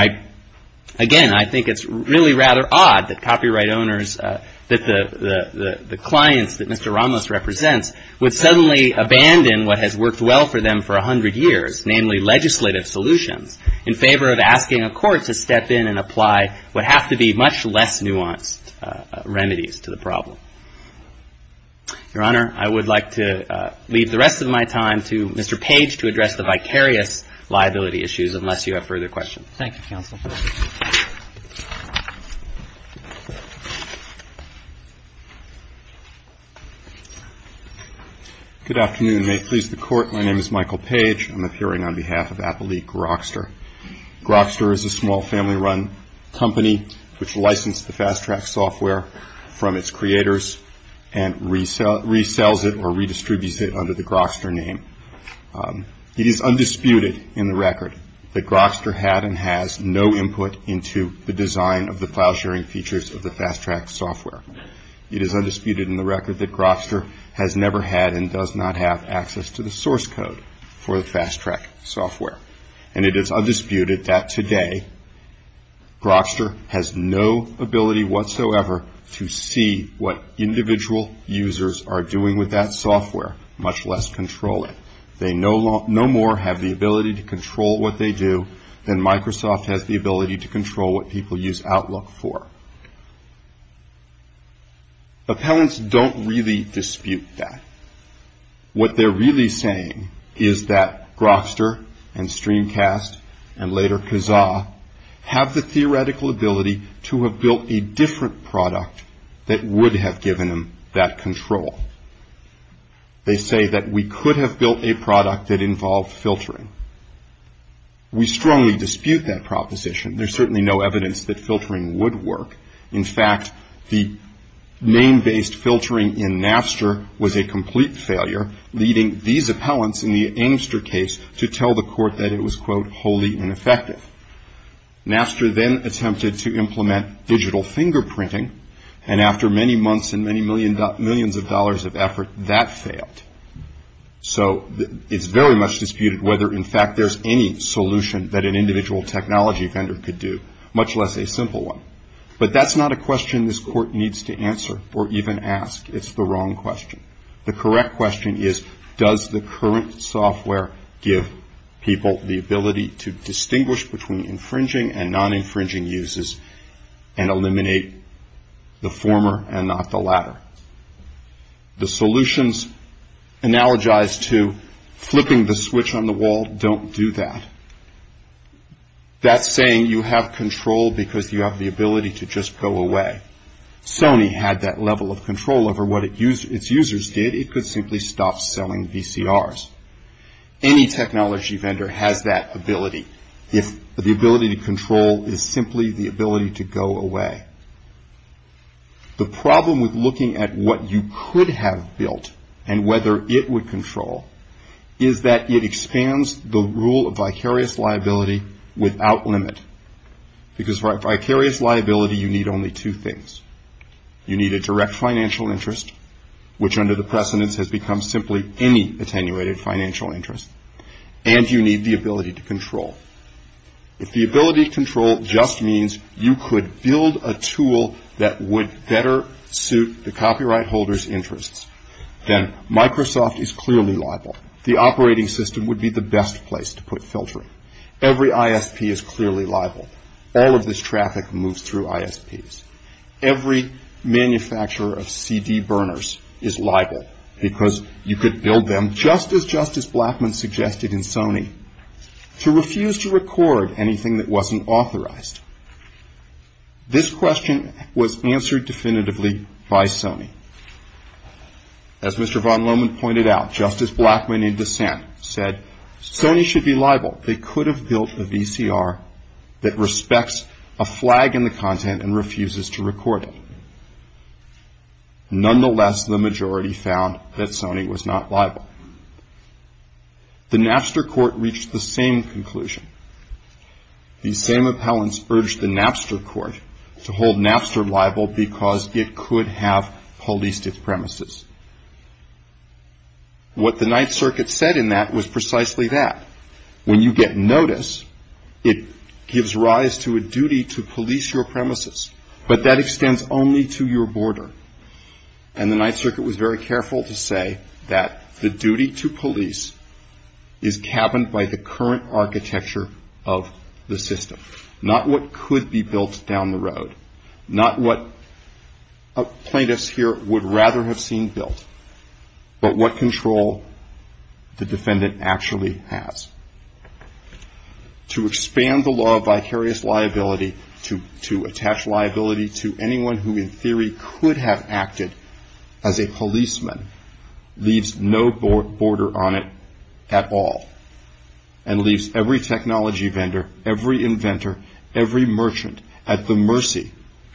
again, I think it's really rather odd that copyright owners, that the clients that Mr. Ramos represents would suddenly abandon what has worked well for them for 100 years, namely legislative solutions, in favor of asking a court to step in and apply what have to be much less nuanced remedies to the problem. Your Honor, I would like to leave the rest of my time to Mr. Page to address the vicarious liability issues, unless you have further questions. Thank you, Counsel. Good afternoon. May it please the Court, my name is Michael Page. I'm appearing on behalf of Appelique Grokster. Grokster is a small family-run company which licensed the Fast Track software from its creators and resells it or redistributes it under the Grokster name. It is undisputed in the record that Grokster had and has no input into the design of the file sharing features of the Fast Track software. It is undisputed in the record that Grokster has never had and does not have access to the source code for the Fast Track software. And it is undisputed that today Grokster has no ability whatsoever to see what individual users are doing with that software, much less control it. They no more have the ability to control what they do than Microsoft has the ability to control what people use Outlook for. Appellants don't really dispute that. What they're really saying is that Grokster and Streamcast and later Kazaa have the theoretical ability to have built a different product that would have given them that control. They say that we could have built a product that involved filtering. We strongly dispute that proposition. There's certainly no evidence that filtering would work. In fact, the name-based filtering in Napster was a complete failure, leading these appellants in the Amster case to tell the court that it was, quote, wholly ineffective. Napster then attempted to implement digital fingerprinting, and after many months and many millions of dollars of effort, that failed. So it's very much disputed whether, in fact, there's any solution that an individual technology vendor could do, much less a simple one. But that's not a question this court needs to answer or even ask. It's the wrong question. The correct question is, does the current software give people the ability to distinguish between infringing and non-infringing uses and eliminate the former and not the latter? The solutions analogize to flipping the switch on the wall. Don't do that. That's saying you have control because you have the ability to just go away. If Sony had that level of control over what its users did, it could simply stop selling VCRs. Any technology vendor has that ability. The ability to control is simply the ability to go away. The problem with looking at what you could have built and whether it would control is that it expands the rule of vicarious liability without limit, because for a vicarious liability, you need only two things. You need a direct financial interest, which under the precedents has become simply any attenuated financial interest, and you need the ability to control. If the ability to control just means you could build a tool that would better suit the copyright holder's interests, then Microsoft is clearly liable. The operating system would be the best place to put filtering. Every ISP is clearly liable. All of this traffic moves through ISPs. Every manufacturer of CD burners is liable because you could build them, just as Justice Blackmun suggested in Sony, to refuse to record anything that wasn't authorized. This question was answered definitively by Sony. As Mr. Von Lohman pointed out, Justice Blackmun in dissent said, Sony should be liable. They could have built a VCR that respects a flag in the content and refuses to record it. Nonetheless, the majority found that Sony was not liable. The Napster court reached the same conclusion. These same appellants urged the Napster court to hold Napster liable because it could have holistic premises. What the Ninth Circuit said in that was precisely that. When you get notice, it gives rise to a duty to police your premises, but that extends only to your border, and the Ninth Circuit was very careful to say that the duty to police is cabined by the current architecture of the system, not what could be built down the road, not what plaintiffs here would rather have seen built, but what control the defendant actually has. To expand the law of vicarious liability, to attach liability to anyone who in theory could have acted as a policeman, leaves no border on it at all, and leaves every technology vendor, every inventor, every merchant at the mercy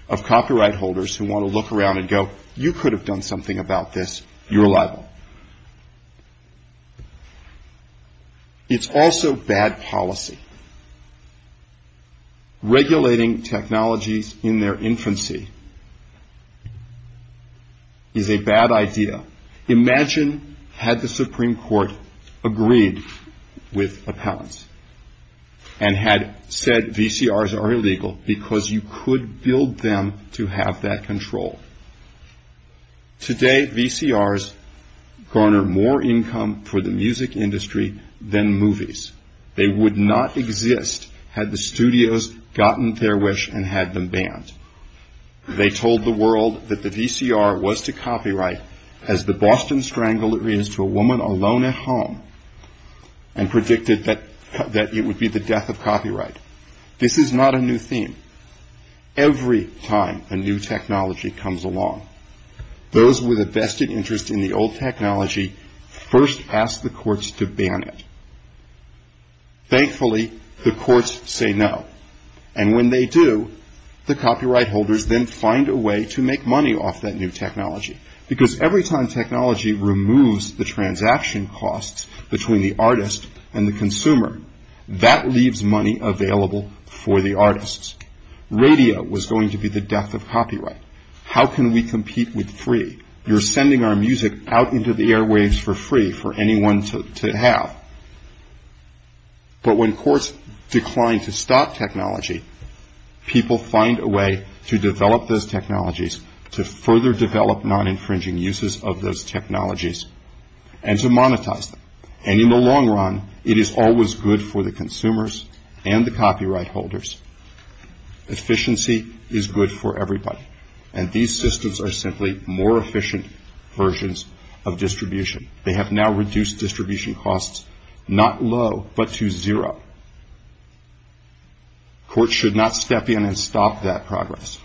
of copyright holders who want to look around and go, you could have done something about this, you're liable. It's also bad policy. Regulating technologies in their infancy is a bad idea. Imagine had the Supreme Court agreed with appellants and had said VCRs are illegal because you could build them to have that control. Today, VCRs garner more income for the music industry than movies. They would not exist had the studios gotten their wish and had them banned. They told the world that the VCR was to copyright as the Boston Strangler is to a woman alone at home, and predicted that it would be the death of copyright. This is not a new theme. Every time a new technology comes along, those with a vested interest in the old technology first ask the courts to ban it. Thankfully, the courts say no, and when they do, the copyright holders then find a way to make money off that new technology, because every time technology removes the transaction costs between the artist and the consumer, that leaves money available for the artists. Radio was going to be the death of copyright. How can we compete with free? You're sending our music out into the airwaves for free for anyone to have. But when courts decline to stop technology, people find a way to develop those technologies, to further develop non-infringing uses of those technologies, and to monetize them. And in the long run, it is always good for the consumers and the copyright holders. Efficiency is good for everybody, and these systems are simply more efficient versions of distribution. They have now reduced distribution costs not low, but to zero. Courts should not step in and stop that progress.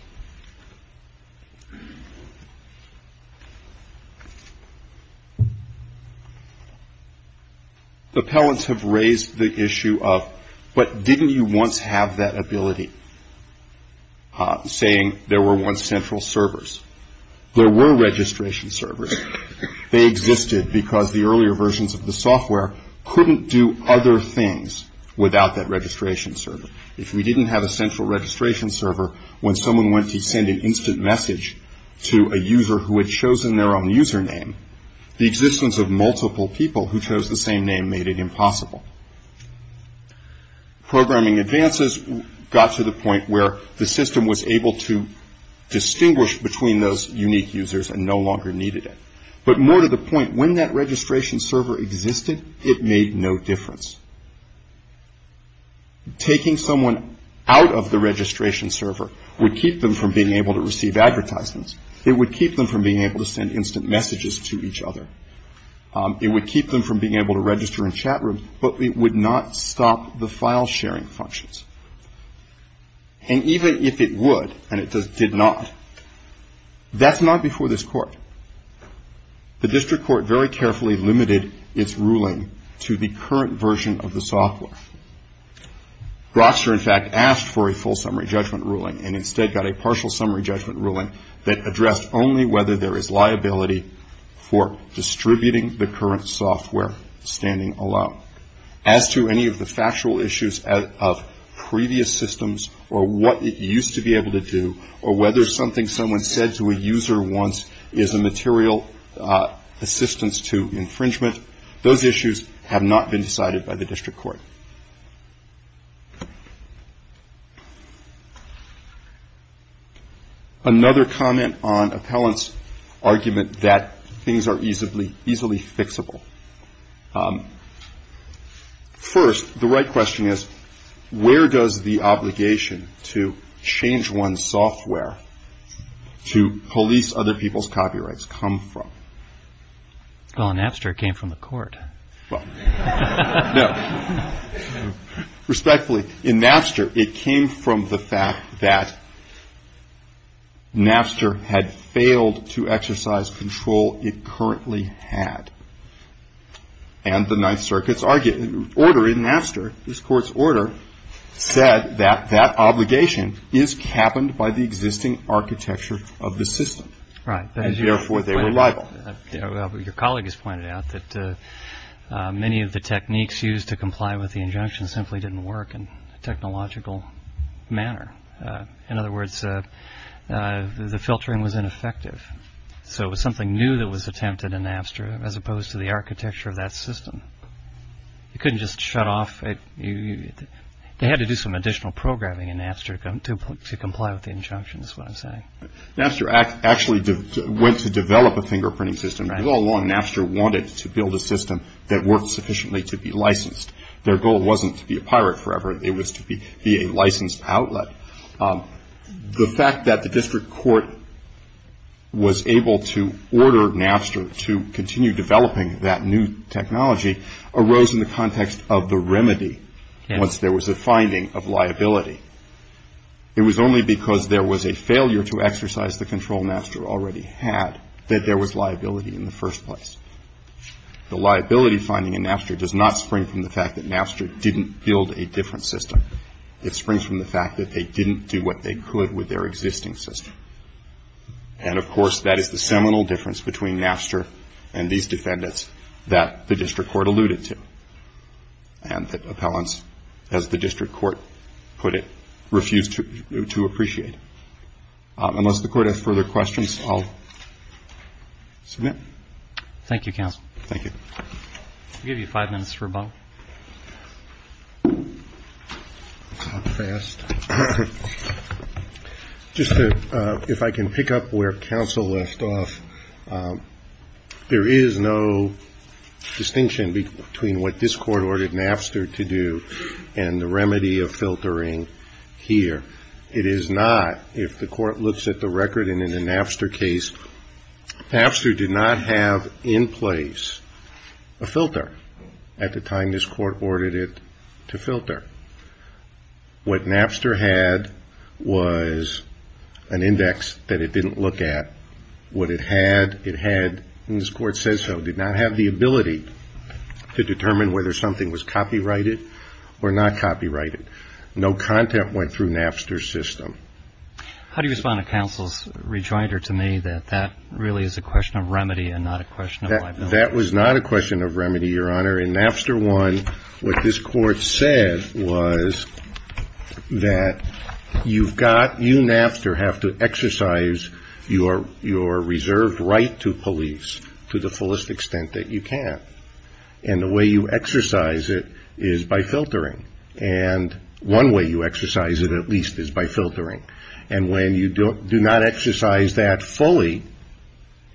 Appellants have raised the issue of, but didn't you once have that ability, saying there were once central servers? There were registration servers. They existed because the earlier versions of the software couldn't do other things without that registration server. If we didn't have a central registration server, when someone went to send an instant message to a user who had chosen their own username, the existence of multiple people who chose the same name made it impossible. Programming advances got to the point where the system was able to But more to the point, when that registration server existed, it made no difference. Taking someone out of the registration server would keep them from being able to receive advertisements. It would keep them from being able to send instant messages to each other. It would keep them from being able to register in chat rooms, but it would not stop the file sharing functions. And even if it would, and it did not, that's not before this court. The district court very carefully limited its ruling to the current version of the software. Grokster, in fact, asked for a full summary judgment ruling and instead got a partial summary judgment ruling that addressed only whether there is liability for distributing the current software standing alone. As to any of the factual issues of previous systems or what it used to be able to do or whether something someone said to a user once is a material assistance to infringement, those issues have not been decided by the district court. Another comment on appellant's argument that things are easily fixable. First, the right question is, where does the obligation to change one's software to police other people's copyrights come from? Well, in Napster, it came from the court. Well, no. Respectfully, in Napster, it came from the fact that Napster had failed to exercise control it currently had. And the Ninth Circuit's order in Napster, this court's order, said that that obligation is capped by the existing architecture of the system. Right. Therefore, they were liable. Your colleague has pointed out that many of the techniques used to comply with the injunction simply didn't work in a technological manner. In other words, the filtering was ineffective. So it was something new that was attempted in Napster as opposed to the architecture of that system. You couldn't just shut off. They had to do some additional programming in Napster to comply with the injunction, is what I'm saying. Napster actually went to develop a fingerprinting system. All along, Napster wanted to build a system that worked sufficiently to be licensed. Their goal wasn't to be a pirate forever. It was to be a licensed outlet. The fact that the district court was able to order Napster to continue developing that new technology arose in the context of the remedy once there was a finding of liability. It was only because there was a failure to exercise the control Napster already had that there was liability in the first place. The liability finding in Napster does not spring from the fact that Napster didn't build a different system. It springs from the fact that they didn't do what they could with their existing system. And, of course, that is the seminal difference between Napster and these defendants that the district court alluded to and that appellants, as the district court put it, refused to appreciate. Unless the Court has further questions, I'll submit. Thank you, Counsel. Thank you. I'll give you five minutes for a vote. Not fast. Just to, if I can pick up where Counsel left off, there is no distinction between what this Court ordered Napster to do and the remedy of filtering here. It is not, if the Court looks at the record in the Napster case, Napster did not have in place a filter at the time this Court ordered it to filter. What Napster had was an index that it didn't look at. What it had, it had, and this Court says so, did not have the ability to determine whether something was copyrighted or not copyrighted. No content went through Napster's system. How do you respond to Counsel's rejoinder to me that that really is a question of remedy and not a question of liability? That was not a question of remedy, Your Honor. In Napster 1, what this Court said was that you've got, you, Napster, have to exercise your reserved right to police to the fullest extent that you can. And the way you exercise it is by filtering. And one way you exercise it, at least, is by filtering. And when you do not exercise that fully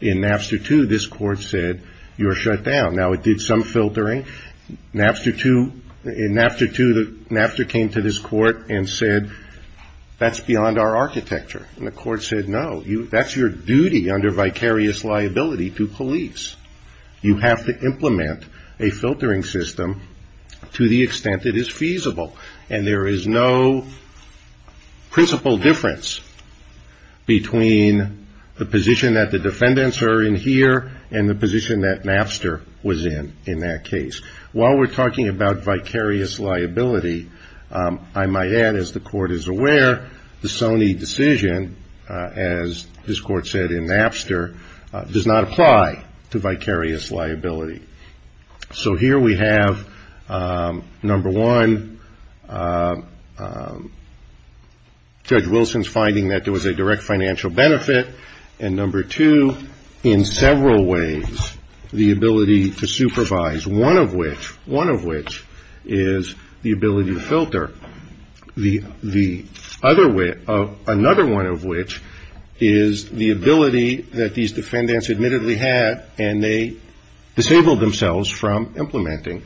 in Napster 2, this Court said, you're shut down. Now, it did some filtering. Napster 2, in Napster 2, Napster came to this Court and said, that's beyond our architecture. And the Court said, no, that's your duty under vicarious liability to police. You have to implement a filtering system to the extent it is feasible. And there is no principal difference between the position that the defendants are in here and the position that Napster was in in that case. While we're talking about vicarious liability, I might add, as the Court is aware, the Sony decision, as this Court said in Napster, does not apply to vicarious liability. So here we have, number one, Judge Wilson's finding that there was a direct financial benefit, and number two, in several ways, the ability to supervise, one of which is the ability to filter. Another one of which is the ability that these defendants admittedly had, and they disabled themselves from implementing.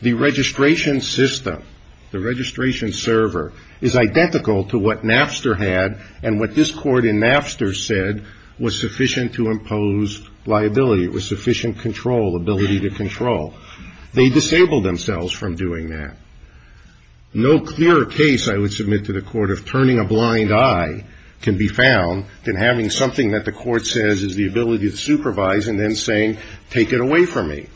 The registration system, the registration server, is identical to what Napster had and what this Court in Napster said was sufficient to impose liability, it was sufficient control, ability to control. They disabled themselves from doing that. No clearer case, I would submit to the Court, of turning a blind eye can be found than having something that the Court says is the ability to supervise and then saying, take it away from me.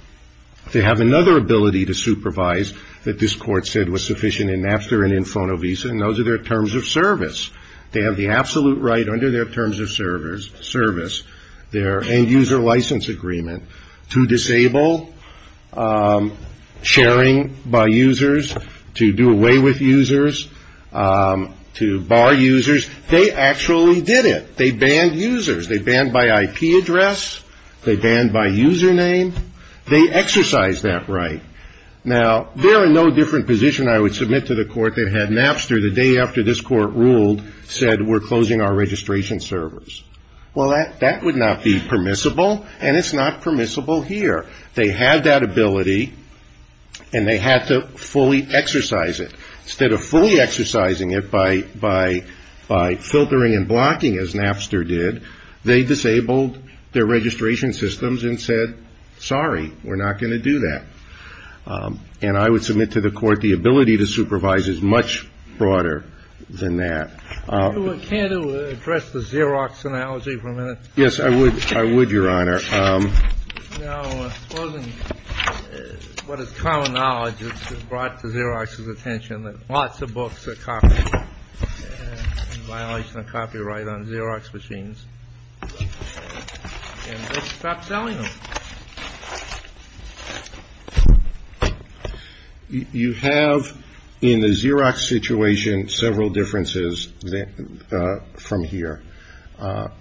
They have another ability to supervise that this Court said was sufficient in Napster and in Fonovisa, and those are their terms of service. They have the absolute right under their terms of service, their end user license agreement, to disable sharing by users, to do away with users, to bar users. They actually did it. They banned users. They banned by IP address. They banned by username. They exercised that right. Now, they're in no different position, I would submit, to the Court that had Napster, the day after this Court ruled, said we're closing our registration servers. Well, that would not be permissible, and it's not permissible here. They had that ability, and they had to fully exercise it. Instead of fully exercising it by filtering and blocking, as Napster did, they disabled their registration systems and said, sorry, we're not going to do that. And I would submit to the Court the ability to supervise is much broader than that. Can you address the Xerox analogy for a minute? Yes, I would. I would, Your Honor. Now, it wasn't what is common knowledge that brought to Xerox's attention, that lots of books are copied in violation of copyright on Xerox machines, and they stopped selling them. You have in the Xerox situation several differences from here. The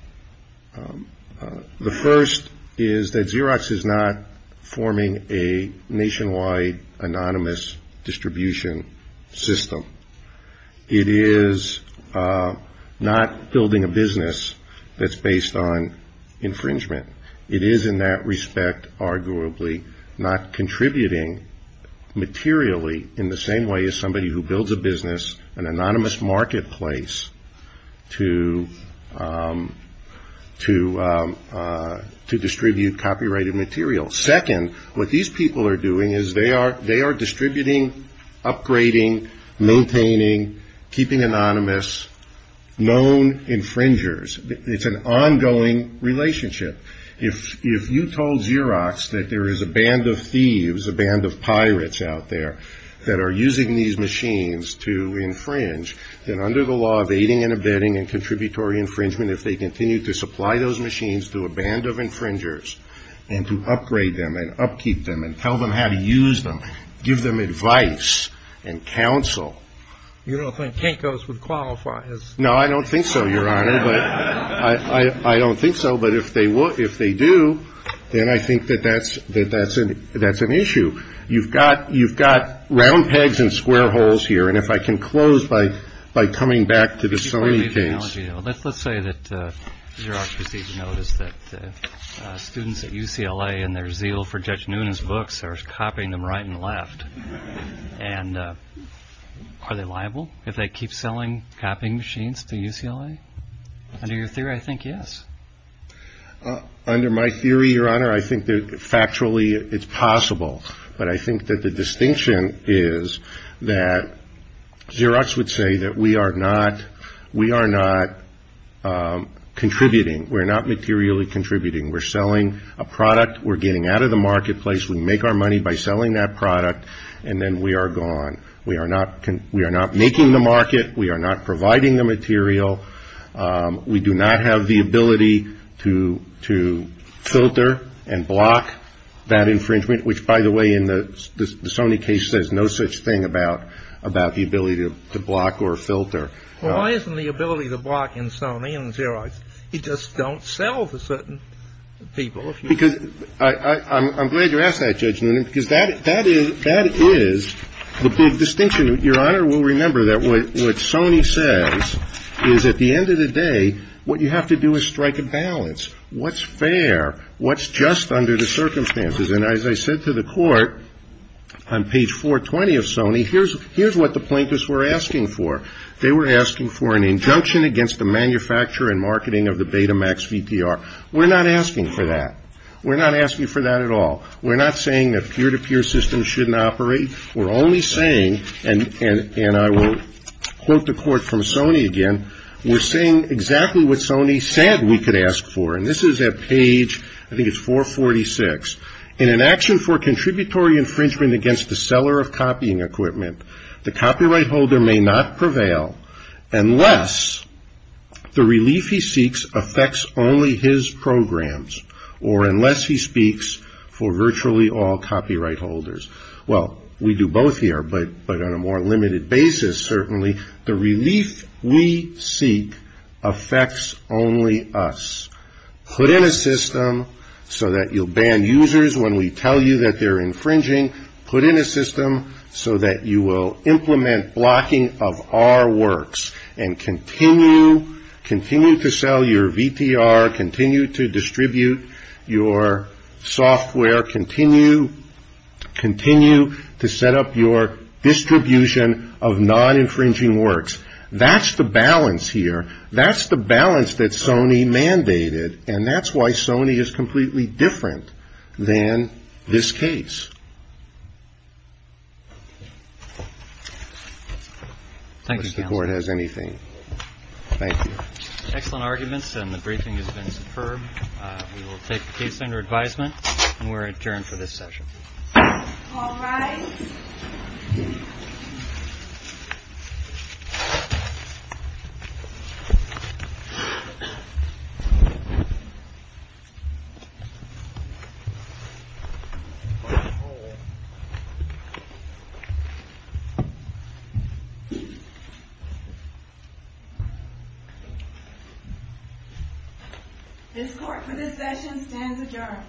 first is that Xerox is not forming a nationwide anonymous distribution system. It is not building a business that's based on infringement. It is in that respect arguably not contributing materially in the same way as somebody who builds a business, an anonymous marketplace to distribute copyrighted material. Second, what these people are doing is they are distributing, upgrading, maintaining, keeping anonymous, known infringers. It's an ongoing relationship. If you told Xerox that there is a band of thieves, a band of pirates out there, that are using these machines to infringe, then under the law of aiding and abetting and contributory infringement, if they continue to supply those machines to a band of infringers and to upgrade them and upkeep them and tell them how to use them, give them advice and counsel. You don't think Kinko's would qualify as ---- No, I don't think so, Your Honor. I don't think so. But if they do, then I think that that's an issue. You've got round pegs and square holes here. And if I can close by coming back to the Sony case. Let's say that Xerox received notice that students at UCLA and their zeal for Judge Noonan's books are copying them right and left. And are they liable if they keep selling copying machines to UCLA? Under your theory, I think yes. Under my theory, Your Honor, I think that factually it's possible. But I think that the distinction is that Xerox would say that we are not contributing. We're not materially contributing. We're selling a product. We're getting out of the marketplace. We make our money by selling that product, and then we are gone. We are not making the market. We are not providing the material. We do not have the ability to filter and block that infringement, which, by the way, in the Sony case, says no such thing about the ability to block or filter. Well, why isn't the ability to block in Sony and Xerox? You just don't sell to certain people. Because I'm glad you asked that, Judge Noonan, because that is the big distinction. Your Honor will remember that what Sony says is at the end of the day what you have to do is strike a balance. What's fair? What's just under the circumstances? And as I said to the court on page 420 of Sony, here's what the plaintiffs were asking for. They were asking for an injunction against the manufacture and marketing of the Betamax VTR. We're not asking for that. We're not asking for that at all. We're not saying that peer-to-peer systems shouldn't operate. We're only saying, and I will quote the court from Sony again, we're saying exactly what Sony said we could ask for, and this is at page, I think it's 446. In an action for contributory infringement against the seller of copying equipment, the copyright holder may not prevail unless the relief he seeks affects only his programs, or unless he speaks for virtually all copyright holders. Well, we do both here, but on a more limited basis, certainly. The relief we seek affects only us. Put in a system so that you'll ban users when we tell you that they're infringing. Put in a system so that you will implement blocking of our works and continue to sell your VTR, continue to distribute your software, continue to set up your distribution of non-infringing works. That's the balance here. And that's why Sony is completely different than this case. Unless the court has anything. Thank you. Excellent arguments, and the briefing has been superb. We will take the case under advisement, and we're adjourned for this session. All rise. This court for this session stands adjourned. Thank you.